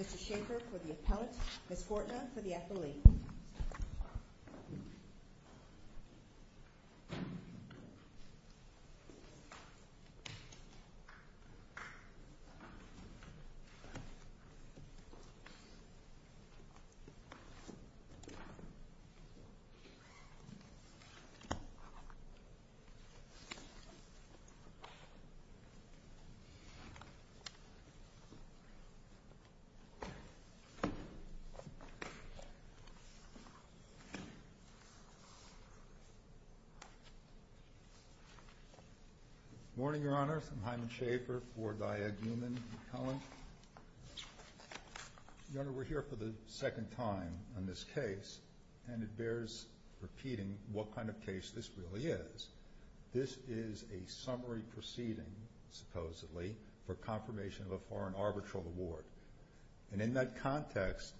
Mr. Schaefer for the appellant, the court now for the athlete. Good morning, Your Honor. I'm Hyman Schaefer for Diag Human appellant. Your Honor, we're here for the second time on this case, and it bears repeating what kind of case this really is. This is a summary proceeding, supposedly, for confirmation of a foreign arbitral award. And in that context,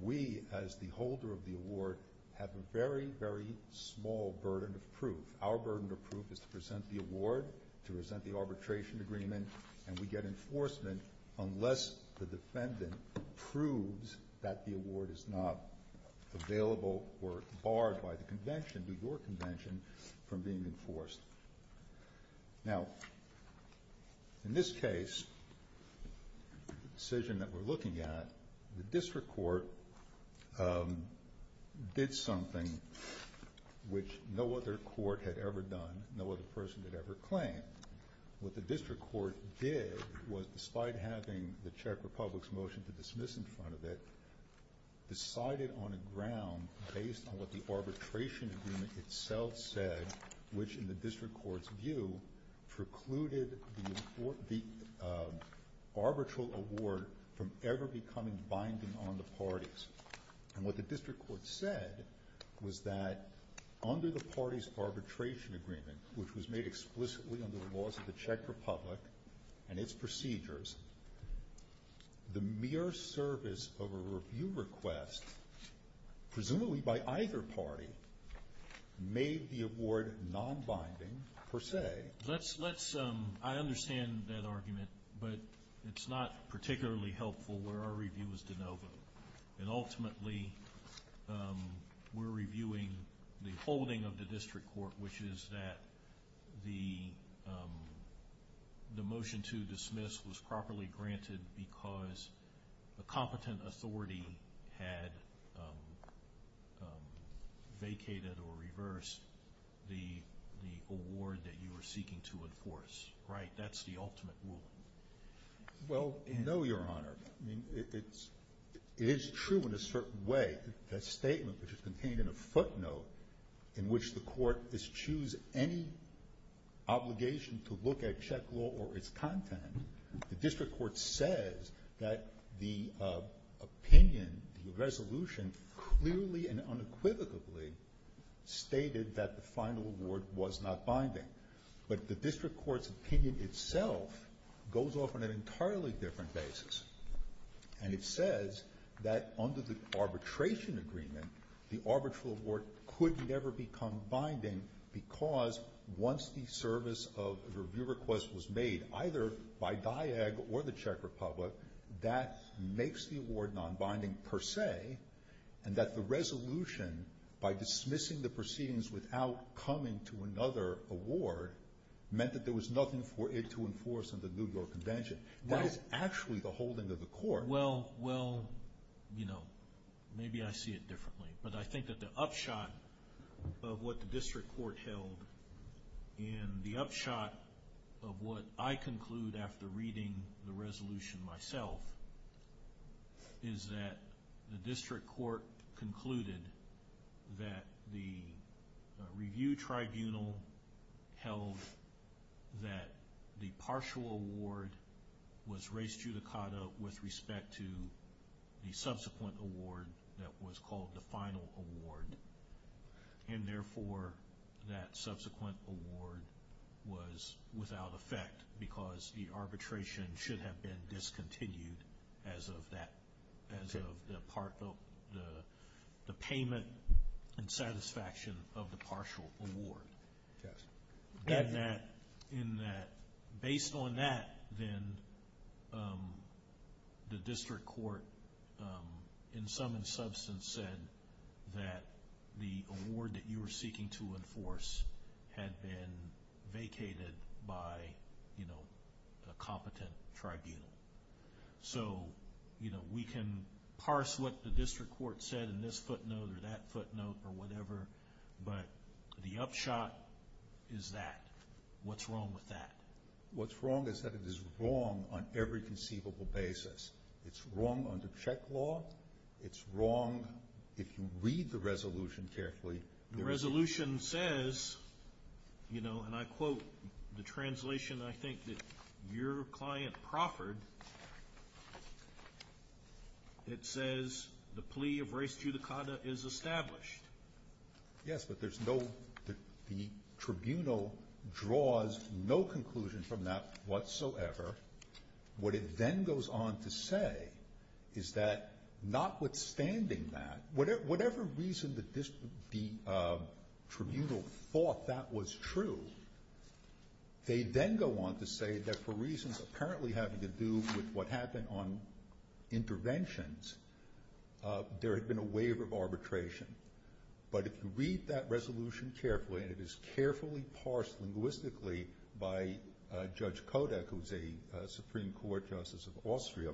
we as the holder of the award have a very, very small burden of proof. Our burden of proof is to present the award, to present the arbitration agreement, and we get enforcement unless the defendant proves that the award is not available or barred by the convention, New York Convention, from being enforced. Now, in this case, the decision that we're looking at, the district court did something which no other court had ever done, no other person had ever claimed. What the district court did was, despite having the Czech Republic's motion to dismiss in front of it, decided on a ground based on what the arbitration agreement itself said, which in the district court's view precluded the arbitral award from ever becoming binding on the parties. And what the district court said was that under the party's arbitration agreement, which was made explicitly under the laws of the Czech Republic and its procedures, the mere service of a review request, presumably by either party, made the award non-binding, per se. Let's, let's, um, I understand that argument, but it's not particularly helpful for our reviewers to know. And ultimately, um, we're reviewing the holding of the district court, which is that the, um, the motion to dismiss was properly granted because the competent authority had, um, um, vacated or reversed the, the award that you were seeking to enforce, right? That's the ultimate rule. Well, I know, Your Honor. I mean, it's, it is true in a certain way. That statement, which is contained in a footnote, in which the court is choose any obligation to look at Czech law or its content, the district court says that the, uh, opinion, the resolution clearly and unequivocally stated that the final award was not binding. But the district court's opinion itself goes off on an entirely different basis. And it says that under the arbitration agreement, the arbitral award could never become binding because once the service of review request was made, either by DIAG or the Czech Republic, that makes the award non-binding, per se, and that the resolution, by dismissing the proceedings without coming to another award, meant that there was nothing for it to enforce under the New York Convention. That is actually the holding of the court. Well, well, you know, maybe I see it differently. But I think that the upshot of what the district court held and the upshot of what I conclude after reading the resolution myself is that the district court concluded that the review tribunal held that the partial award was res judicata with respect to the subsequent award that was called the final award. And therefore, that subsequent award was without effect because the arbitration should have been discontinued as of that, as of the part of the payment and satisfaction of the partial award. Yes. And that, in that, based on that, then the district court, in sum and substance, said that the award that you were seeking to enforce had been vacated by, you know, a competent tribunal. So, you know, we can parse what the district court said in this footnote or that footnote or whatever, but the upshot is that. What's wrong with that? What's wrong is that it is wrong on every conceivable basis. It's wrong on the check law. It's wrong if you read the resolution carefully. The resolution says, you know, and I quote the translation, I think, that your client proffered. It says the plea of res judicata is established. Yes, but there's no, the tribunal draws no conclusions from that whatsoever. What it then goes on to say is that notwithstanding that, whatever reason the tribunal thought that was true, they then go on to say that for reasons apparently having to do with what happened on interventions, there had been a waiver of arbitration. But if you read that resolution carefully, and it is carefully parsed linguistically by Judge Kodak, who's a Supreme Court Justice of Austria,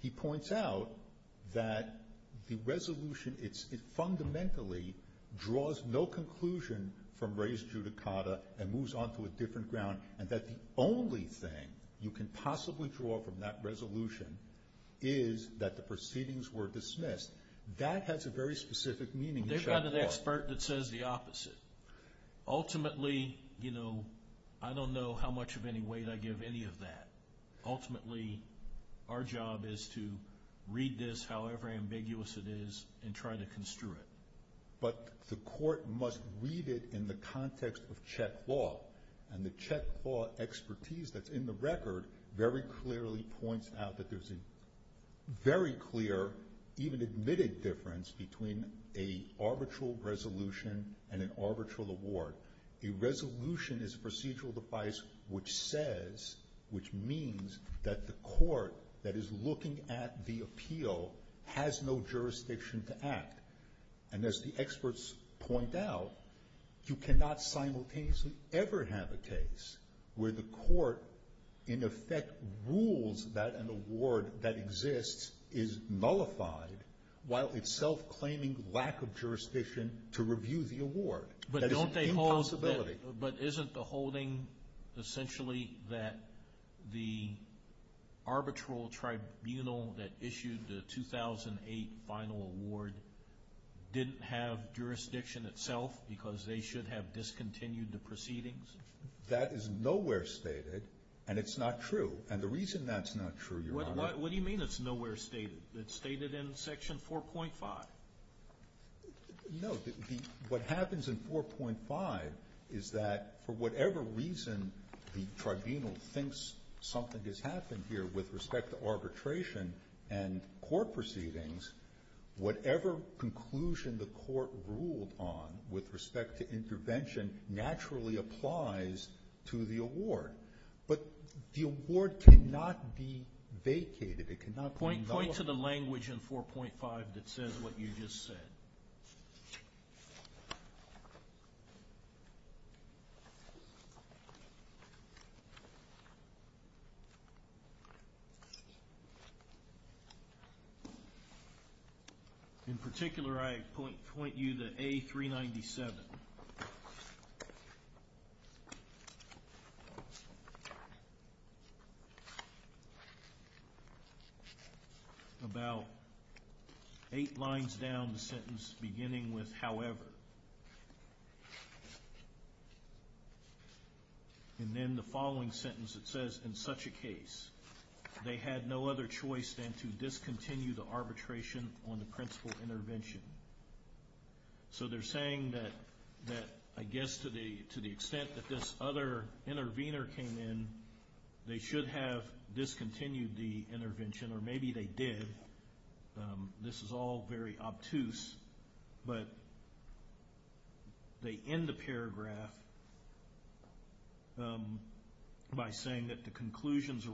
he points out that the resolution, it fundamentally draws no conclusion from res judicata and moves on to a different ground and that the only thing you can possibly draw from that resolution is that the proceedings were dismissed. That has a very specific meaning. They've got an expert that says the opposite. Ultimately, you know, I don't know how much of any weight I give any of that. Ultimately, our job is to read this however ambiguous it is and try to construe it. But the court must read it in the context of Chet Law, and the Chet Law expertise that's in the record very clearly points out that there's a very clear, even admitted difference between an arbitral resolution and an arbitral award. A resolution is a procedural device which says, which means that the court that is looking at the appeal has no jurisdiction to act. And as the experts point out, you cannot simultaneously ever have a case where the court in effect rules that an award that exists is nullified while it's self-claiming lack of jurisdiction to review the award. But isn't the holding essentially that the arbitral tribunal that issued the 2008 final award didn't have jurisdiction itself because they should have discontinued the proceedings? That is nowhere stated, and it's not true. And the reason that's not true, Your Honor... What do you mean it's nowhere stated? It's stated in Section 4.5. No, what happens in 4.5 is that for whatever reason the tribunal thinks something has happened here with respect to arbitration and court proceedings, whatever conclusion the court to the award. But the award cannot be vacated. It cannot be nullified. Point to the language in 4.5 that says what you just said. In particular, I point you to A397. About eight lines down the sentence beginning with however, and then the following sentence that says in such a case, they had no other choice than to discontinue the arbitration on the principal intervention. So they're saying that I guess to the extent that this other intervener came in, they should have discontinued the intervention, or maybe they did. This is all very obtuse, but they end the paragraph by saying that the conclusions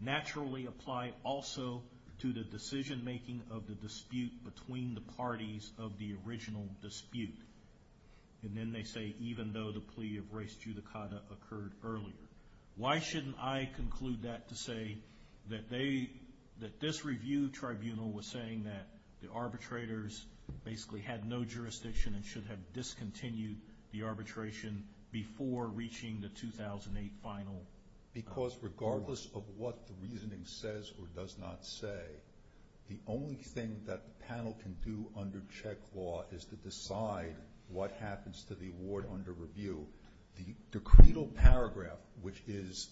naturally apply also to the decision-making of the dispute between the parties of the original dispute. And then they say even though the plea of race judicata occurred earlier. Why shouldn't I conclude that to say that this review tribunal was saying that the arbitrators basically had no jurisdiction and should have discontinued the arbitration before reaching the 2008 final. Because regardless of what the reasoning says or does not say, the only thing that the panel can do under check law is to decide what happens to the award under review. The decreed paragraph, which is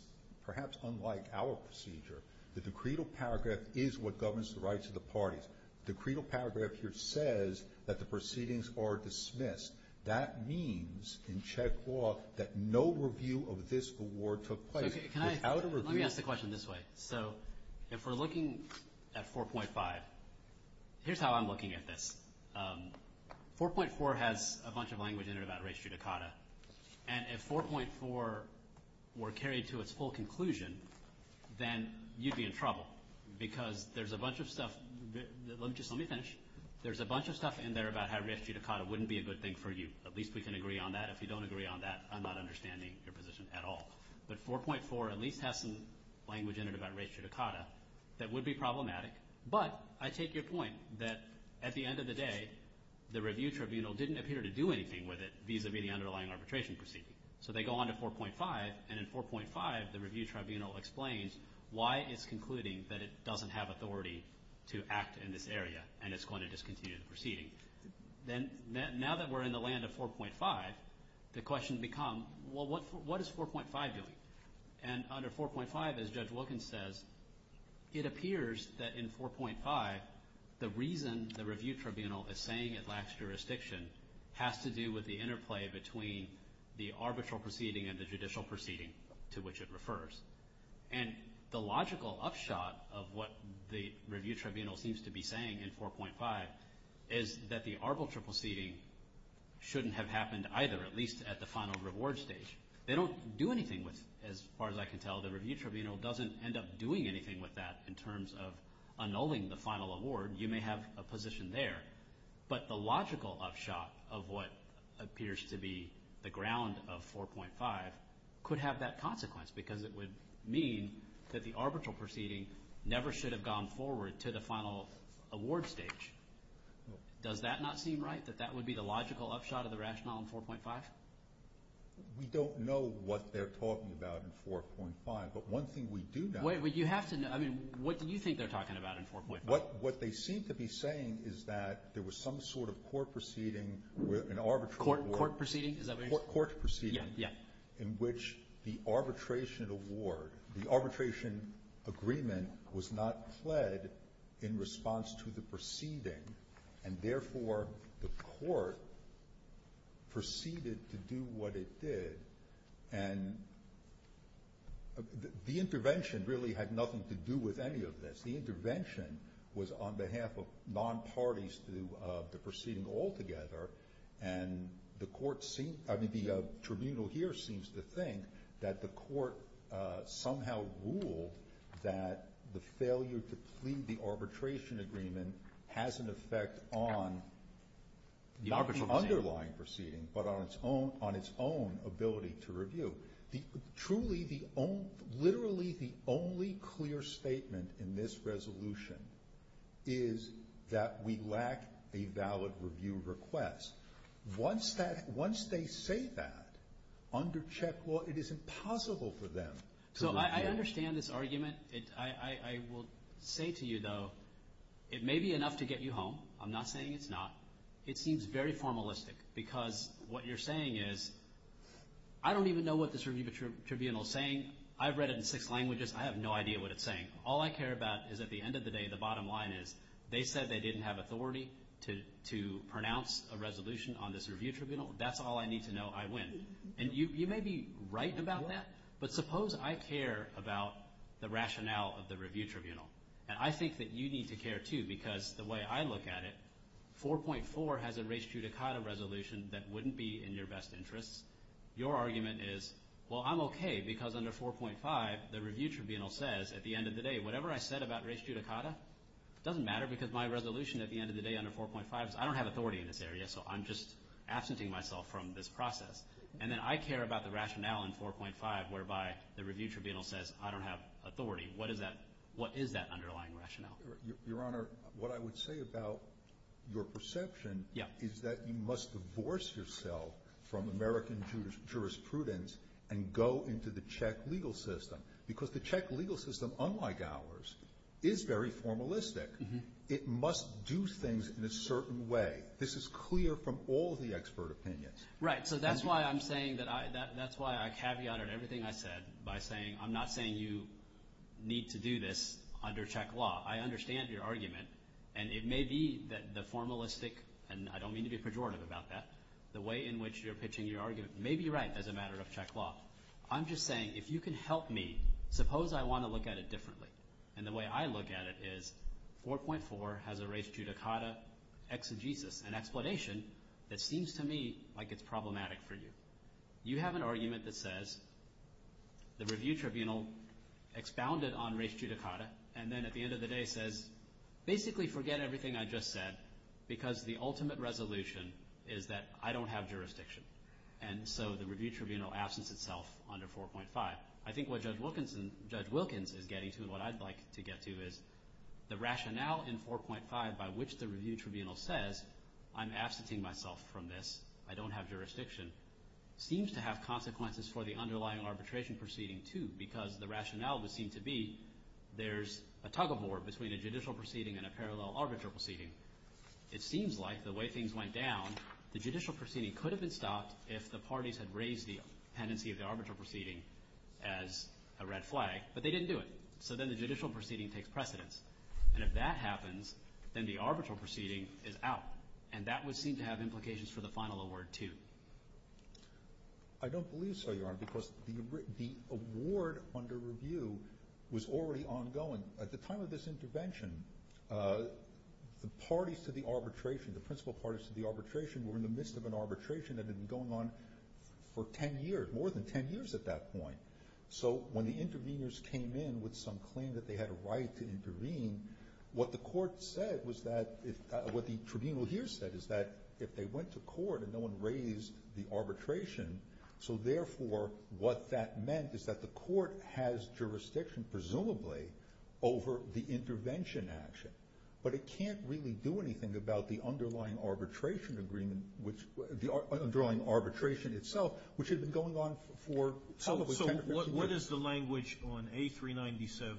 perhaps unlike our procedure, the decreed paragraph is what governs the rights of the parties. The decreed paragraph here says that the proceedings are dismissed. That means in check law that no review of this award took place without a review. Let me ask the question this way. So if we're looking at 4.5, here's how I'm looking at this. 4.4 has a bunch of language in it about race judicata. And if 4.4 were carried to its full conclusion, then you'd be in trouble. Because there's a bunch of stuff in there about how race judicata wouldn't be a good thing for you. At least we can agree on that. If you don't agree on that, I'm not understanding your position at all. But 4.4 at least has some language in it about race judicata that would be problematic. But I take your point that at the end of the day, the review tribunal didn't appear to do anything with it, vis-a-vis the underlying arbitration procedure. So they go on to 4.5. And in 4.5, the review tribunal explains why it's concluding that it doesn't have authority to act in this area and it's going to discontinue the proceeding. Now that we're in the land of 4.5, the question becomes, well, what is 4.5 doing? And under 4.5, as Judge Wilkins says, it appears that in 4.5, the reason the review tribunal is saying it lacks jurisdiction has to do with the interplay between the arbitral proceeding and the judicial proceeding to which it refers. And the logical upshot of what the review tribunal seems to be saying in 4.5 is that the arbitral proceeding shouldn't have happened either, at least at the final reward stage. They don't do anything with it, as far as I can tell. The review tribunal doesn't end up doing anything with that in terms of annulling the final award. You may have a position there. But the logical upshot of what appears to be the ground of 4.5 could have that consequence because it would mean that the arbitral proceeding never should have gone forward to the final award stage. Does that not seem right, that that would be the logical upshot of the rationale in 4.5? We don't know what they're talking about in 4.5, but one thing we do know... Wait, but you have to know. I mean, what do you think they're talking about in 4.5? What they seem to be saying is that there was some sort of court proceeding where an arbitration agreement was not fled in response to the proceeding, and therefore the court proceeded to do what it did, and the intervention really had nothing to do with any of this. The intervention was on behalf of non-parties to the proceeding altogether, and the court seems... I mean, the tribunal here seems to think that the court somehow ruled that the failure to plead the arbitration agreement has an effect on not the underlying proceeding, but on its own ability to review. Literally, the only clear statement in this resolution is that we lack a valid review request. Once they say that, under Czech law, it is impossible for them to... So I understand this argument. I will say to you, though, it may be enough to get you home. I'm not saying it's not. It seems very formalistic, because what you're saying is, I don't even know what this review tribunal is saying. I've read it in six languages. I have no idea what it's saying. All I care about is, at the end of the day, the bottom line is, they said they didn't have authority to pronounce a resolution on this review tribunal. That's all I need to know. I win. And you may be right about that, but suppose I care about the rationale of the review tribunal, and I think that you need to care, too, because the way I look at it, 4.4 has enraged you to cut a resolution that wouldn't be in your best interest. Your argument is, well, I'm upset about res judicata. It doesn't matter, because my resolution at the end of the day under 4.5 is, I don't have authority in this area, so I'm just absenting myself from this process. And then I care about the rationale in 4.5, whereby the review tribunal says, I don't have authority. What is that underlying rationale? Your Honor, what I would say about your perception is that you must divorce yourself from American jurisprudence and go into the Czech legal system, because the Czech legal system, unlike ours, is very formalistic. It must do things in a certain way. This is clear from all the expert opinions. Right. So that's why I'm saying that I – that's why I caveat everything I said by saying, I'm not saying you need to do this under Czech law. I understand your argument, and it may be that the formalistic – and I don't mean to be pejorative about that – the way in which you're pitching your argument may be right as a matter of Czech law. I'm just saying, if you can help me, suppose I want to look at it differently. And the way I look at it is, 4.4 has a res judicata exegesis, an explanation that seems to me like it's problematic for you. You have an argument that says, the review tribunal expounded on res judicata, and then at the end of the day says, basically forget everything I just said, because the ultimate resolution is that I don't have jurisdiction. And so the review tribunal absence itself under 4.5. I think what Judge Wilkinson – Judge Wilkins is getting to, what I'd like to get to, is the rationale in 4.5 by which the review tribunal says, I'm absenting myself from this, I don't have jurisdiction, seems to have consequences for the underlying arbitration proceeding, too, because the rationale would seem to be, there's a tug-of-war between a judicial proceeding and a parallel arbitral proceeding. It seems like, the way things went down, the judicial proceeding could have been stopped if the parties had raised the tendency of the arbitral proceeding as a red flag, but they didn't do it. So then the judicial proceeding takes precedence. And if that happens, then the arbitral proceeding is out. And that would seem to have implications for the final award, too. I don't believe so, Your Honor, because the award under review was already ongoing. At the time of this intervention, the parties to the arbitration, the principal parties to the arbitration, were in the midst of an arbitration that had been going on for ten years, more than ten years at that point. So when the interveners came in with some claim that they had a right to intervene, what the court said was that – what the arbitration, so therefore what that meant is that the court has jurisdiction, presumably, over the intervention action. But it can't really do anything about the underlying arbitration agreement, the underlying arbitration itself, which has been going on for some of the ten years. So what is the language on A397,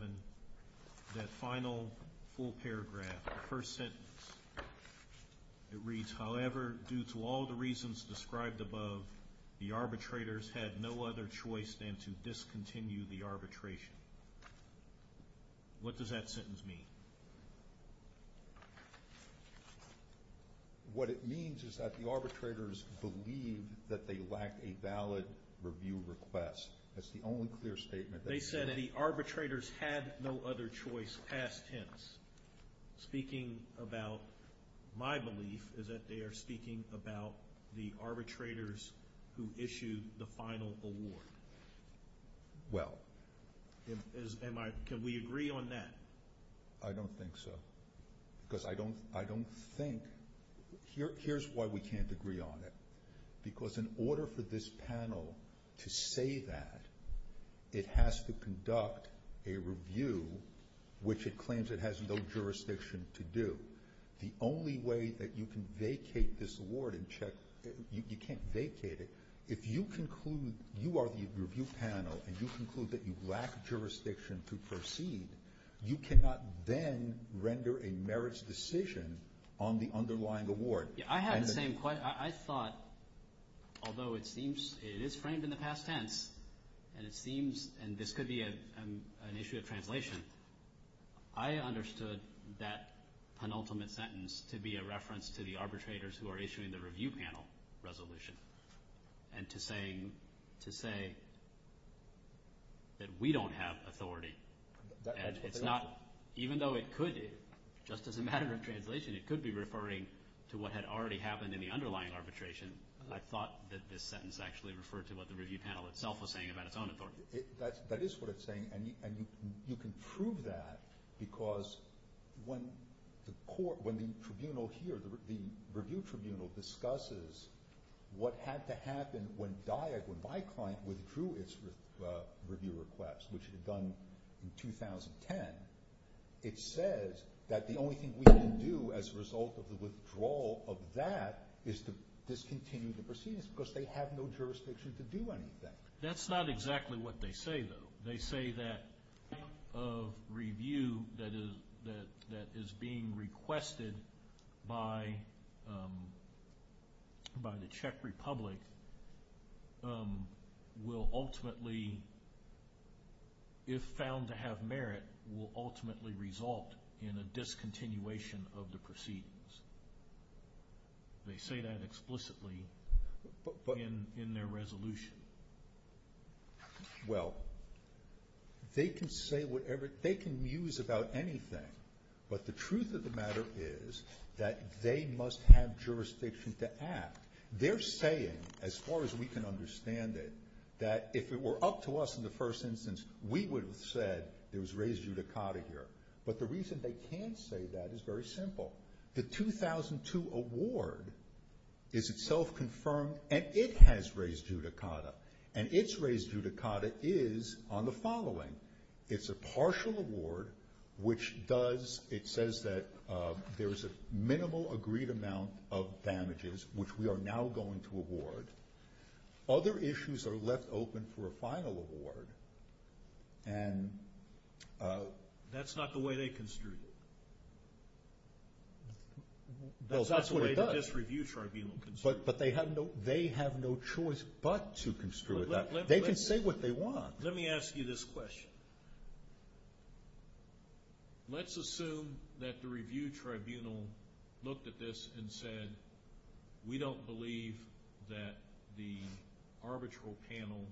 that final full paragraph, the first sentence? It reads, However, due to all the reasons described above, the arbitrators had no other choice than to discontinue the arbitration. What does that sentence mean? What it means is that the arbitrators believe that they lack a valid review request. That's the only clear statement. They said that the arbitrators had no other choice past tense. Speaking about my belief is that they are speaking about the arbitrators who issued the final award. Well. Can we agree on that? I don't think so. Because I don't think – here's why we can't agree on it. Because in order for this panel to say that, it has to conduct a review which it claims it has no jurisdiction to do. The only way that you can vacate this award and check – you can't vacate it – if you conclude you are the review panel and you conclude that you lack jurisdiction to proceed, you cannot then render a merits decision on the underlying award. I have the same question. I thought, although it is framed in the past tense, and this could be an issue of translation, I understood that penultimate sentence to be a reference to the arbitrators who are issuing the review panel resolution and to say that we don't have authority. Even though it could, just as a matter of translation, it could be referring to what had already happened in the underlying arbitration. I thought that this sentence actually referred to what the review panel itself was saying about a comment order. That is what it's saying, and you can prove that because when the tribunal here, the review tribunal, discusses what had to happen when my client withdrew its review request, which is to discontinue the proceedings because they have no jurisdiction to do any of that. That's not exactly what they say, though. They say that a review that is being requested by the Czech Republic will ultimately, if found to have merit, will ultimately result in a discontinuation of the proceedings. They say that explicitly in their resolution. Well, they can say whatever, they can muse about anything, but the truth of the matter is that they must have jurisdiction to act. They're saying, as far as we can understand it, that if it were up to us in the first instance, we would have said it was raised judicata here. But the reason they can't say that is very simple. The 2002 award is itself confirmed, and it has raised judicata, and it's raised judicata is on the following. It's a partial award, which does, it says that there is a minimal agreed amount of damages, which we are now going to award. Other issues are left open for a final award, and... That's not the way they construed it. That's what it does. That's the way this review tribunal construed it. But they have no choice but to construe it. They can say what they want. Let me ask you this question. Let's assume that the review tribunal looked at this and said, we don't believe that the arbitral panel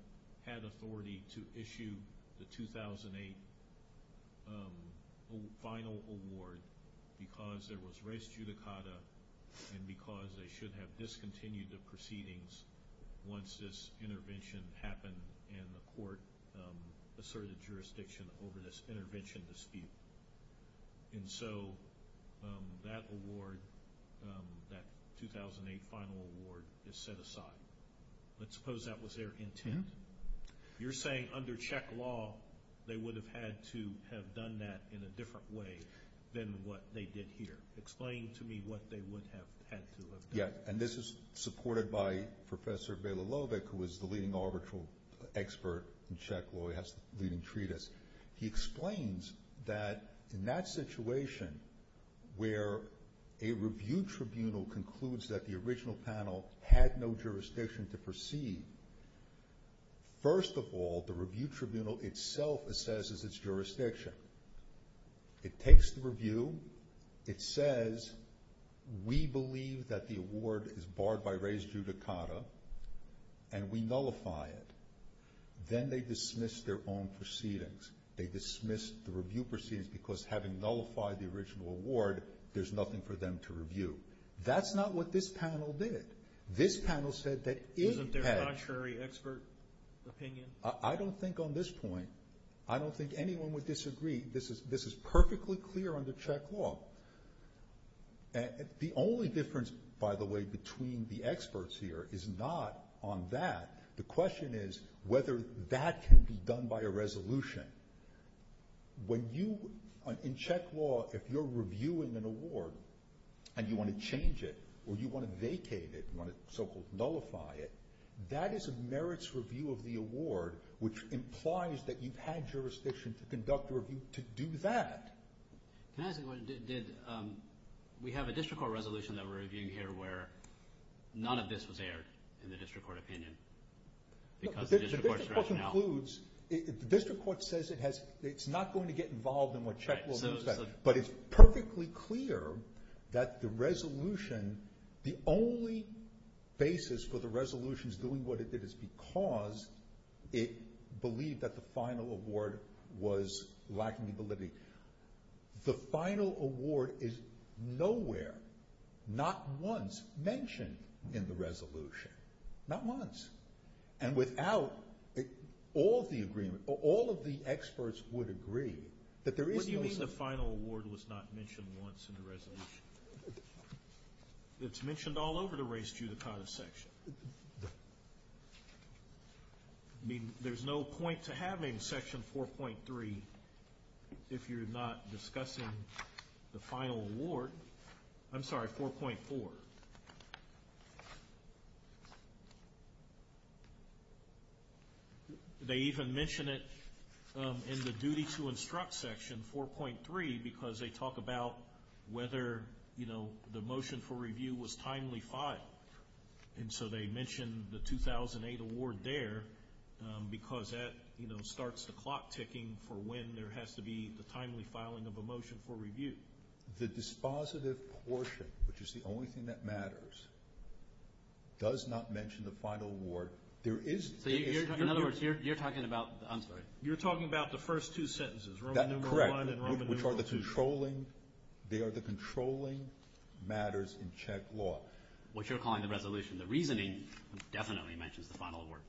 had authority to issue the 2008 final award because there was raised judicata and because they should have discontinued the proceedings once this intervention happened and the court asserted jurisdiction over this intervention dispute. And so that award, that 2008 final award is set aside. Let's suppose that was their intent. You're saying under check law, they would have had to have done that in a different way than what they did here. Explain to me what they would have had to have done. Yeah, and this is supported by Professor Bailalovic, who is the leading arbitral expert in check law. He has a leading treatise. He explains that in that situation where a review tribunal concludes that the original panel had no jurisdiction to proceed, first of all, the review tribunal itself assesses its jurisdiction. It takes the review. It says, we believe that the award is barred by raised judicata and we nullify it. Then they dismiss their own proceedings. They dismiss the review proceedings because having nullified the original award, there's nothing for them to review. That's not what this panel did. This panel said that it had- Isn't there a contrary expert opinion? I don't think on this point, I don't think anyone would disagree. This is perfectly clear under check law. The only difference, by the way, between the experts here is not on that. The question is whether that can be done by a resolution. In check law, if you're reviewing an award and you want to change it or you want to vacate it, you want to so-called nullify it, that is a merits review of the award, which implies that you've had jurisdiction to conduct a review to do that. We have a district court resolution that we're reviewing here where none of this was aired in the district court opinion. The district court concludes, the district court says it's not going to get involved in what check law says, but it's perfectly clear that the resolution, the only basis for the resolution is doing what it did is because it believed that the final award was lacking validity. The final award is nowhere, not once, mentioned in the resolution. Not once. And without all the agreement, all of the experts would agree that there is- What do you mean the final award was not mentioned once in the resolution? It's mentioned all over the race judicata section. There's no point to having section 4.3 if you're not discussing the final award. I'm sorry, 4.4. They even mention it in the duty to instruct section 4.3 because they talk about whether the motion for review was timely filed. And so they mention the 2008 award there because that starts the clock ticking for when there has to be a timely filing of a motion for review. The dispositive portion, which is the only thing that matters, does not mention the final award. There is- In other words, you're talking about- I'm sorry. You're talking about the first two sentences. That's correct. They are the controlling matters in Czech law. What you're calling the resolution. The reasoning definitely mentions the final award.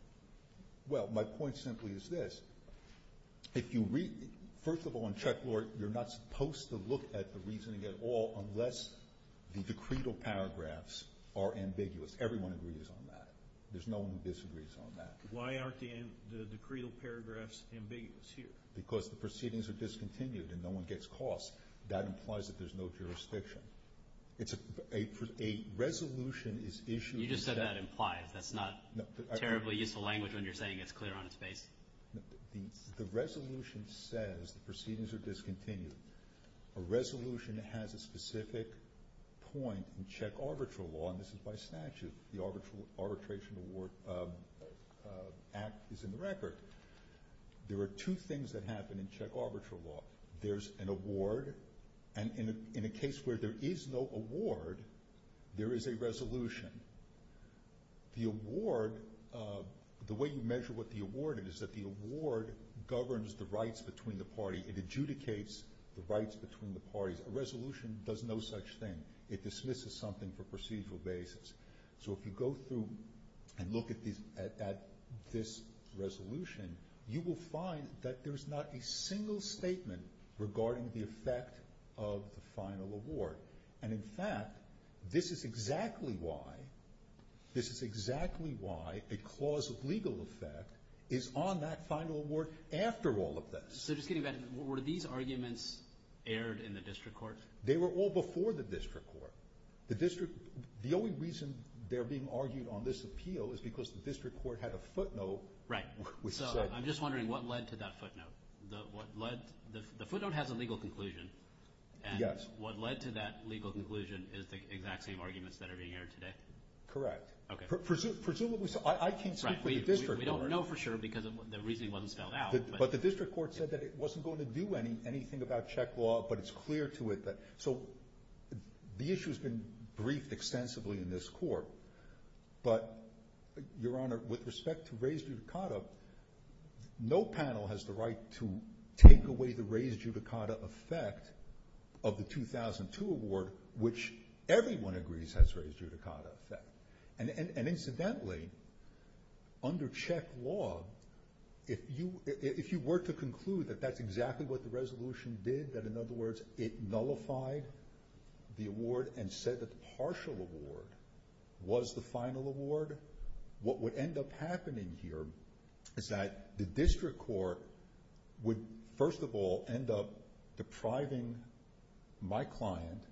Well, my point simply is this. First of all, in Czech law, you're not supposed to look at the reasoning at all unless the decretal paragraphs are ambiguous. Everyone agrees on that. There's no one who disagrees on that. Why aren't the decretal paragraphs ambiguous here? Because the proceedings are discontinued and no one gets caught. That implies that there's no jurisdiction. A resolution is issued- You just said that implies. That's not terribly useful language when you're saying it's clear on its face. The resolution says the proceedings are discontinued. A resolution has a specific point in Czech arbitral law, and this is by statute. The arbitration act is in the record. There are two things that happen in Czech arbitral law. There's an award, and in a case where there is no award, there is a resolution. The award, the way you measure what the award is, is that the award governs the rights between the parties. It adjudicates the rights between the parties. A resolution does no such thing. It dismisses something for procedural basis. If you go through and look at this resolution, you will find that there's not a single statement regarding the effect of the final award. In fact, this is exactly why a clause of legal effect is on that final award after all of this. Were these arguments aired in the district court? They were all before the district court. The only reason they're being argued on this appeal is because the district court had a footnote. I'm just wondering what led to that footnote. The footnote has a legal conclusion, and what led to that legal conclusion is the exact same arguments that are being aired today. Correct. I can't speak for the district court. We don't know for sure because the reasoning wasn't spelled out. The district court said that it wasn't going to do anything about check law, but it's clear to it. The issue has been briefed extensively in this court. Your Honor, with respect to raised judicata, no panel has the right to take away the raised judicata effect of the 2002 award, which everyone agrees has raised judicata effect. Incidentally, under check law, if you were to conclude that that's exactly what the resolution did, that in other words, it nullified the award and said the partial award was the final award, what would end up happening here is that the district court would, first of all, end up depriving my client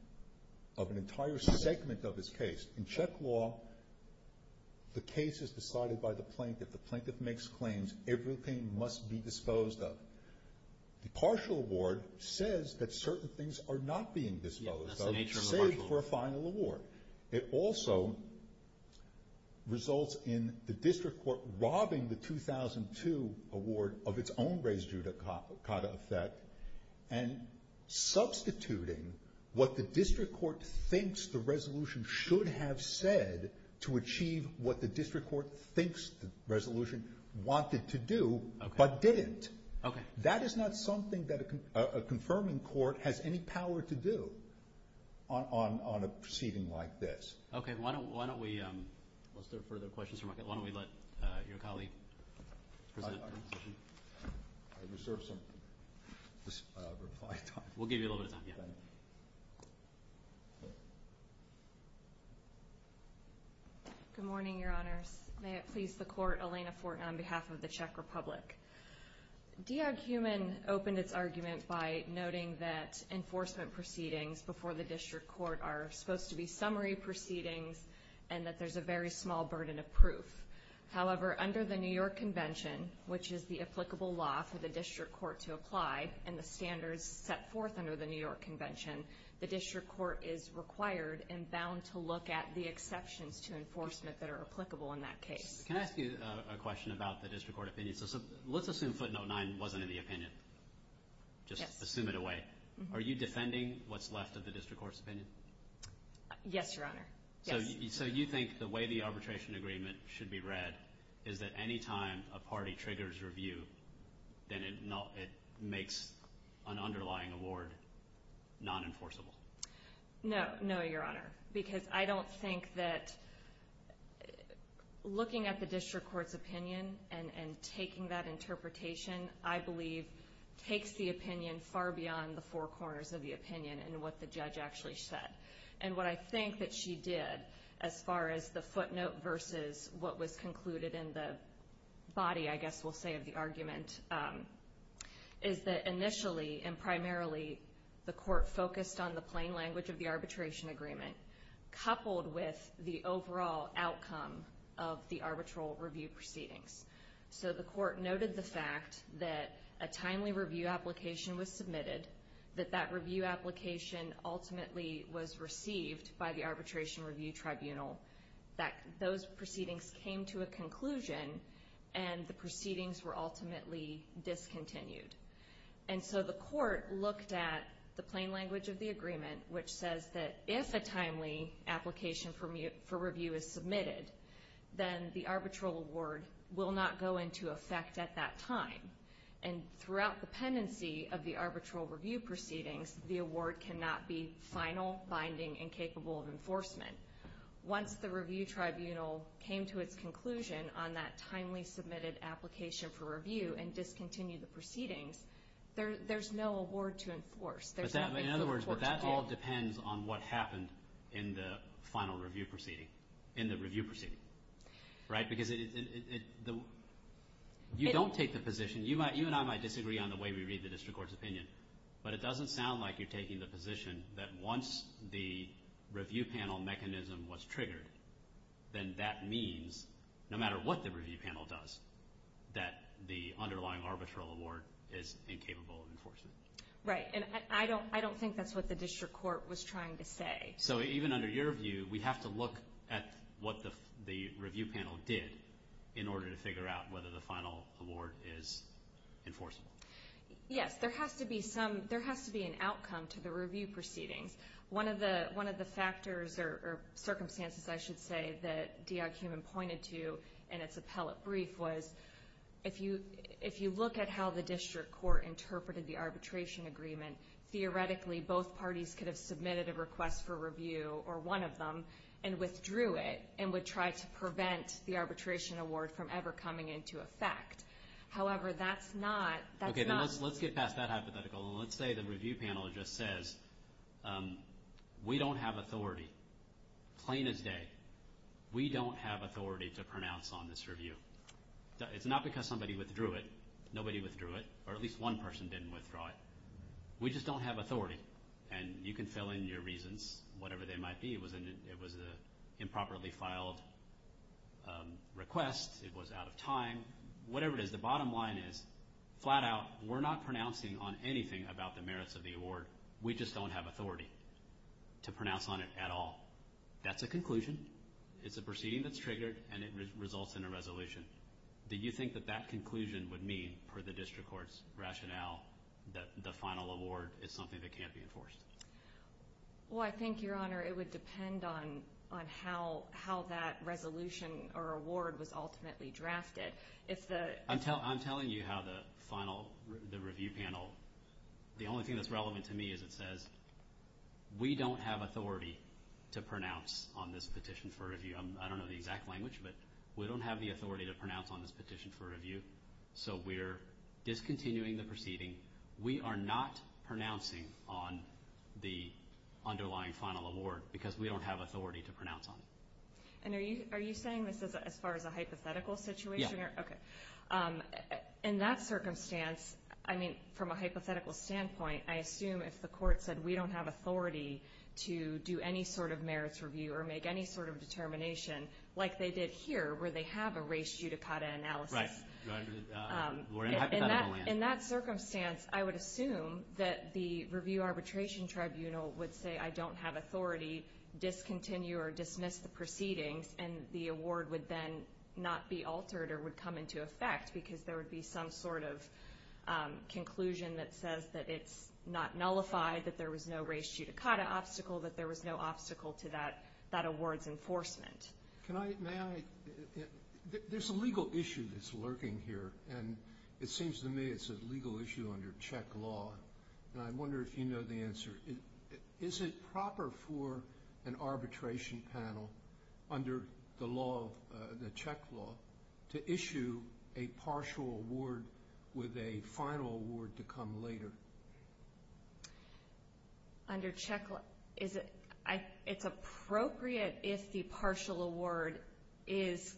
of an entire segment of his case. In check law, the case is decided by the plaintiff. The plaintiff makes claims everything must be disposed of. The partial award says that certain things are not being disposed of, save for a final award. It also results in the district court robbing the 2002 award of its own raised judicata effect and substituting what the district court thinks the resolution should have said to achieve what the district court thinks the resolution wanted to do, but didn't. That is not something that a confirming court has any power to do on a proceeding like this. Okay, why don't we, once there are further questions, why don't we let your colleague present the resolution. I deserve some of this reply time. We'll give you a little bit of time, yeah. Good morning, your honors. May it please the court, Elena Fort on behalf of the Czech Republic. Diog Heumann opened his argument by noting that enforcement proceedings before the district court are supposed to be summary proceedings and that there's a very small burden of proof. However, under the New York Convention, which is the applicable law for the district court to apply and the standards set forth under the New York Convention, the district court is required and bound to look at the exceptions to enforcement that are applicable in that case. Can I ask you a question about the district court opinion? Let's assume footnote 9 wasn't in the opinion. Just assume it away. Are you defending what's left of the district court's opinion? Yes, your honor. So you think the way the arbitration agreement should be read is that any time a party triggers review, then it makes an underlying award non-enforceable. No, your honor. Because I don't think that looking at the district court's opinion and taking that interpretation, I believe, takes the opinion far beyond the four corners of the opinion and what the judge actually said. And what I think that she did, as far as the footnote versus what was concluded in the body, I guess we'll say, of the argument, is that initially and primarily the court focused on the plain language of the arbitration agreement, coupled with the overall outcome of the arbitral review proceedings. So the court noted the fact that a timely review application was submitted, that that review application ultimately was received by the arbitration review tribunal, that those proceedings came to a conclusion, and the proceedings were ultimately discontinued. And so the court looked at the plain language of the agreement, which says that if a timely application for review is submitted, then the arbitral award will not go into effect at that time. And throughout the pendency of the arbitral review proceedings, the award cannot be final, binding, and capable of enforcement. Once the review tribunal came to its conclusion on that timely submitted application for review and discontinued the proceedings, there's no award to enforce. In other words, but that all depends on what happened in the final review proceeding, in the review proceeding, right? Because you don't take the position, you and I might disagree on the way we read the district court's opinion, but it doesn't sound like you're taking the position that if the review panel mechanism was triggered, then that means, no matter what the review panel does, that the underlying arbitral award is incapable of enforcement. Right, and I don't think that's what the district court was trying to say. So even under your view, we have to look at what the review panel did in order to figure out whether the final award is enforceable. Yes, there has to be some, there has to be an outcome to the review proceedings. One of the factors, or circumstances, I should say, that DRQ pointed to in its appellate brief was if you look at how the district court interpreted the arbitration agreement, theoretically both parties could have submitted a request for review, or one of them, and withdrew it, and would try to prevent the arbitration award from ever coming into effect. However, that's not... Okay, let's get past that hypothetical, and let's say the review panel just says, we don't have authority, plain as day, we don't have authority to pronounce on this review. It's not because somebody withdrew it, nobody withdrew it, or at least one person didn't withdraw it. We just don't have request, it was out of time, whatever it is, the bottom line is, flat out, we're not pronouncing on anything about the merits of the award, we just don't have authority to pronounce on it at all. That's a conclusion, it's a proceeding that's triggered, and it results in a resolution. Do you think that that conclusion would mean, for the district court's rationale, that the final award is something that resolution or award was ultimately drafted? I'm telling you how the final review panel, the only thing that's relevant to me is it says, we don't have authority to pronounce on this petition for review. I don't know the exact language, but we don't have the authority to pronounce on this petition for review, so we're discontinuing the proceeding. We are not pronouncing on the underlying final award, because we don't have authority to pronounce on it. Are you saying this is as far as a hypothetical situation? Yes. In that circumstance, from a hypothetical standpoint, I assume if the court said we don't have authority to do any sort of merits review or make any sort of determination, like they did here, where they have a ratio to cut analysis. In that circumstance, I would assume that the review arbitration tribunal would say I don't have authority, discontinue or dismiss the proceeding, and the award would then not be altered or would come into effect, because there would be some sort of conclusion that says that it's not nullified, that there was no ratio to cut an obstacle, that there There's a legal issue that's lurking here, and it seems to me it's a legal issue under Czech law, and I'm wondering if you know the answer. Is it proper for an arbitration panel under the law, the Czech law, to issue a partial award with a final award to come later? Under Czech law, it's appropriate if the partial award is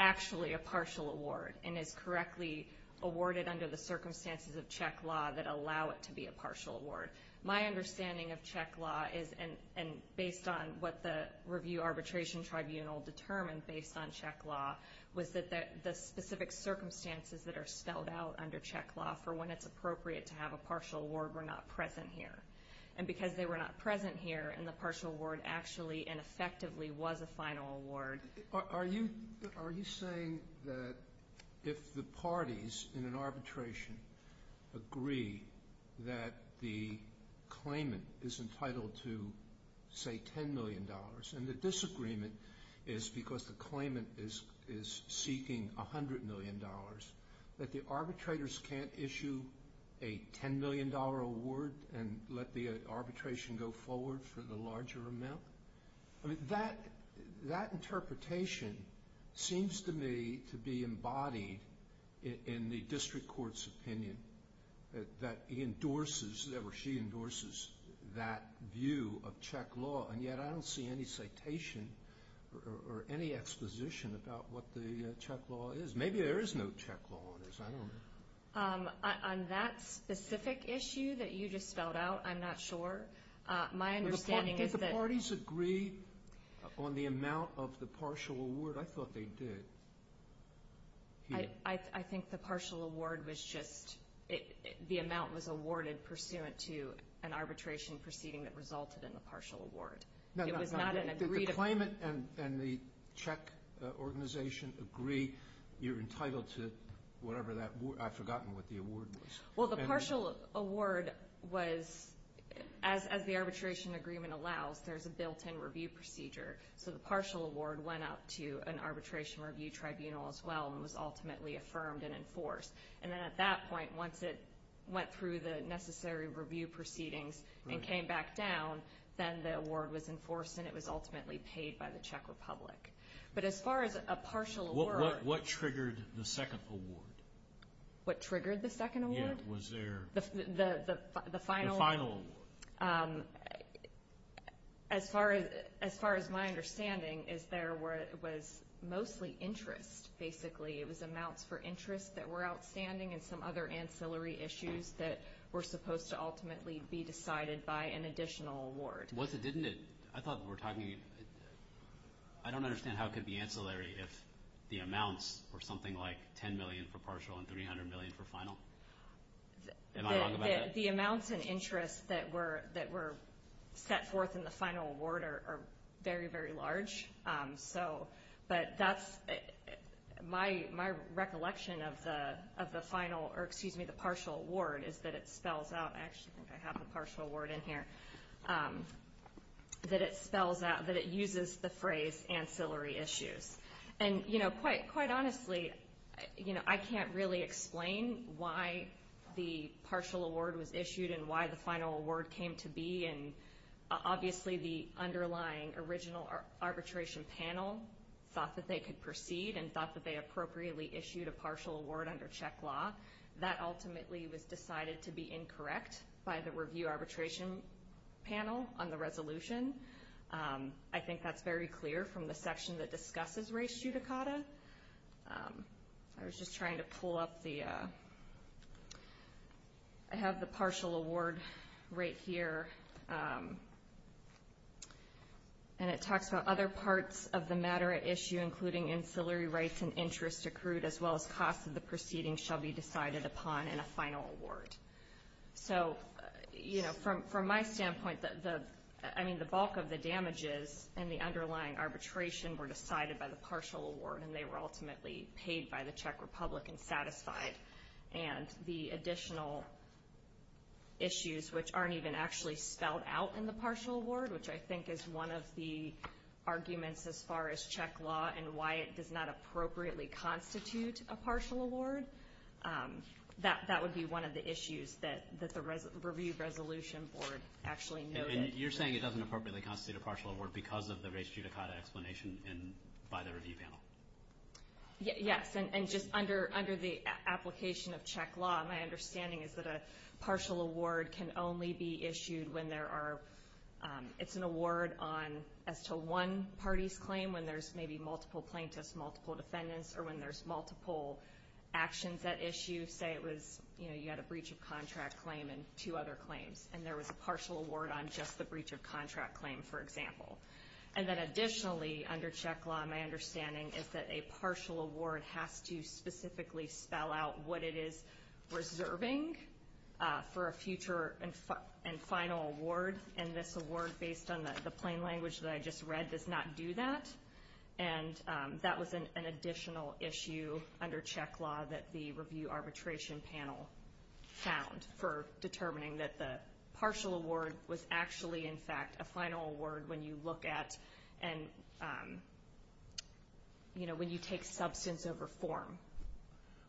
actually a partial award and is correctly awarded under the circumstances of Czech law that allow it to be a partial award. My understanding of Czech law is, and based on what the review arbitration tribunal determined based on Czech law, was that the specific circumstances that are spelled out under Czech law for when it's appropriate to have a partial award were not present here. And because they were not present here, and the partial award actually and effectively was a final award. Are you saying that if the parties in an arbitration agree that the claimant is entitled to say $10 million, and the disagreement is because the claimant is seeking $100 million, that the arbitrators can't issue a $10 million award and let the arbitration go forward for the larger amount? That interpretation seems to me to be embodied in the district court's opinion that endorses, or she endorses, that view of Czech law. And yet I don't see any citation or any exposition about what the Czech law is. Maybe there is no Czech law. On that specific issue that you just spelled out, I'm not sure. My understanding is that... Did the parties agree on the amount of the partial award? I thought they did. I think the partial award was just... The amount was awarded pursuant to an arbitration proceeding that resulted in a partial award. Did the claimant and the Czech organization agree you're entitled to whatever that... I've forgotten what the award was. Well, the partial award was... As the arbitration agreement allows, there's a built-in review procedure. So the partial award went out to an arbitration review tribunal as well and was ultimately affirmed and enforced. And then at that point, once it went through the necessary review proceedings and came back down, then the award was enforced and it was ultimately paid by the Czech Republic. But as far as a partial award... What triggered the second award? What triggered the second award? Yeah, was there... The final award. The final award. As far as my understanding is there was mostly interest, basically. It was amounts for interest that were outstanding and some other ancillary issues that were supposed to ultimately be decided by an additional award. I thought we were talking... I don't understand how it could be ancillary if the amounts were something like $10 million for partial and $300 million for final. The amounts and interest that were set forth in the final award are very, very large. But that's... My recollection of the partial award is that it spells out... Actually, I think I have the partial award in here. That it spells out... That it uses the phrase ancillary issues. And quite honestly, I can't really explain why the partial award was issued and why the final award came to be. And obviously, the underlying original arbitration panel thought that they could proceed and thought that they appropriately issued a partial award under check law. That ultimately was decided to be incorrect by the review arbitration panel on the resolution. I think that's very clear from the section that discusses race judicata. I was just trying to pull up the... I have the partial award right here. And it talks about other parts of the matter at issue, including ancillary rights and interest accrued as well as cost of the proceeding shall be decided upon in a final award. From my standpoint, the bulk of the damages and the underlying arbitration were decided by the partial award and they were ultimately paid by the Czech Republic and satisfied. And the additional issues, which aren't even actually spelled out in the partial award, which I think is one of the arguments as far as Czech law and why it does not appropriately constitute a partial award, that would be one of the issues that the review resolution board actually noted. And you're saying it doesn't appropriately constitute a partial award because of the race judicata explanation by the review panel? Yes. And just under the application of Czech law, my understanding is that a partial award can only be issued when there are... It's an award on... as to one party's claim when there's maybe multiple plaintiffs, multiple defendants, or when there's multiple actions at issue. Say it was, you know, you had a breach of contract claim and two other claims. And there was a partial award on just the breach of contract claim, for example. And then additionally, under Czech law, my understanding is that a partial award has to specifically spell out what it is reserving for a future and final award. And this award, based on the plain language that I just read, does not do that. And that was an additional issue under Czech law that the review arbitration panel found for determining that the partial award was actually, in fact, a final award when you look at... you know, when you take substance of reform.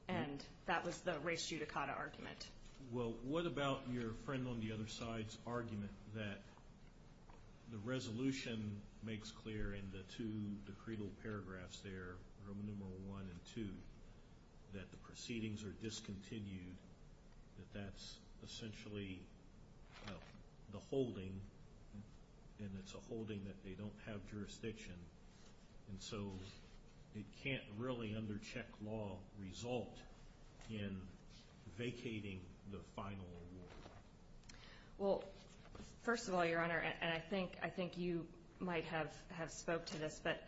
And that was the race judicata argument. Well, what about your friend on the other side's argument that the resolution makes clear in the two decreed paragraphs there, from numeral one and two, that the proceedings are discontinued, that that's essentially the holding, and it's a holding that they don't have jurisdiction. And so it can't really, under Czech law, result in vacating the final award. Well, first of all, Your Honor, and I think you might have spoke to this, but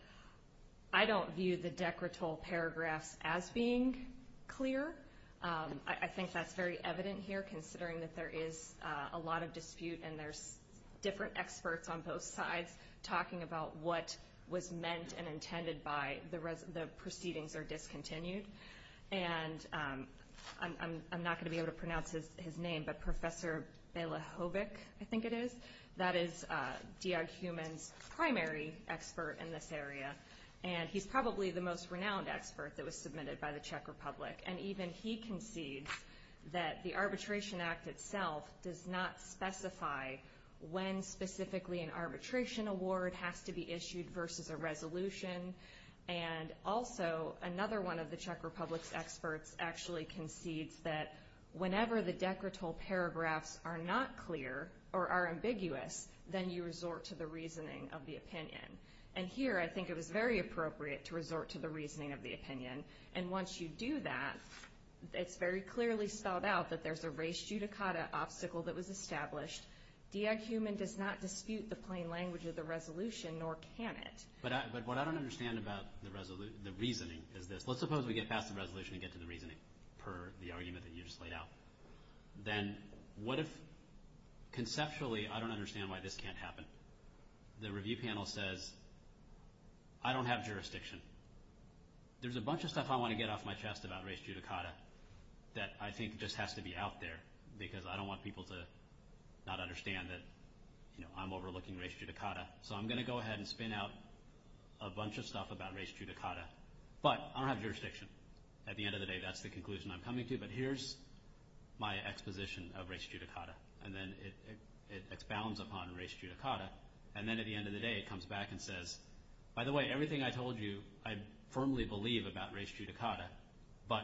I don't view the decretal paragraph as being clear. I think that's very evident here, considering that there is a lot of dispute and there's different experts on both sides talking about what was meant and intended by the proceedings are discontinued. And I'm not going to be able to pronounce his name, but Professor Belychovic, I think it is, that is GRHuman's primary expert in this area. And he's probably the most renowned expert that was submitted by the Czech Republic. And even he concedes that the Arbitration Act itself does not specify when specifically an arbitration award has to be issued versus a resolution. And also another one of the Czech Republic's experts actually concedes that whenever the decretal paragraphs are not clear or are ambiguous, then you resort to the reasoning of the opinion. And here I think it was very appropriate to resort to the reasoning of the opinion. And once you do that, it's very clearly spelled out that there's a res judicata obstacle that was established. GRHuman does not dispute the plain language of the resolution, nor can it. But what I don't understand about the reasoning is this. Let's suppose we get past the resolution and get to the reasoning, per the argument that you just laid out. Then what if, conceptually, I don't understand why this can't happen. The review panel says, I don't have jurisdiction. There's a bunch of stuff I want to get off my chest about res judicata that I think just has to be out there because I don't want people to not understand that I'm overlooking res judicata. So I'm going to go ahead and spin out a bunch of stuff about res judicata. But I don't have jurisdiction. At the end of the day, that's the conclusion I'm coming to. But here's my exposition of res judicata. And then it expounds upon res judicata. And then at the end of the day it comes back and says, by the way, everything I told you, I firmly believe about res judicata. But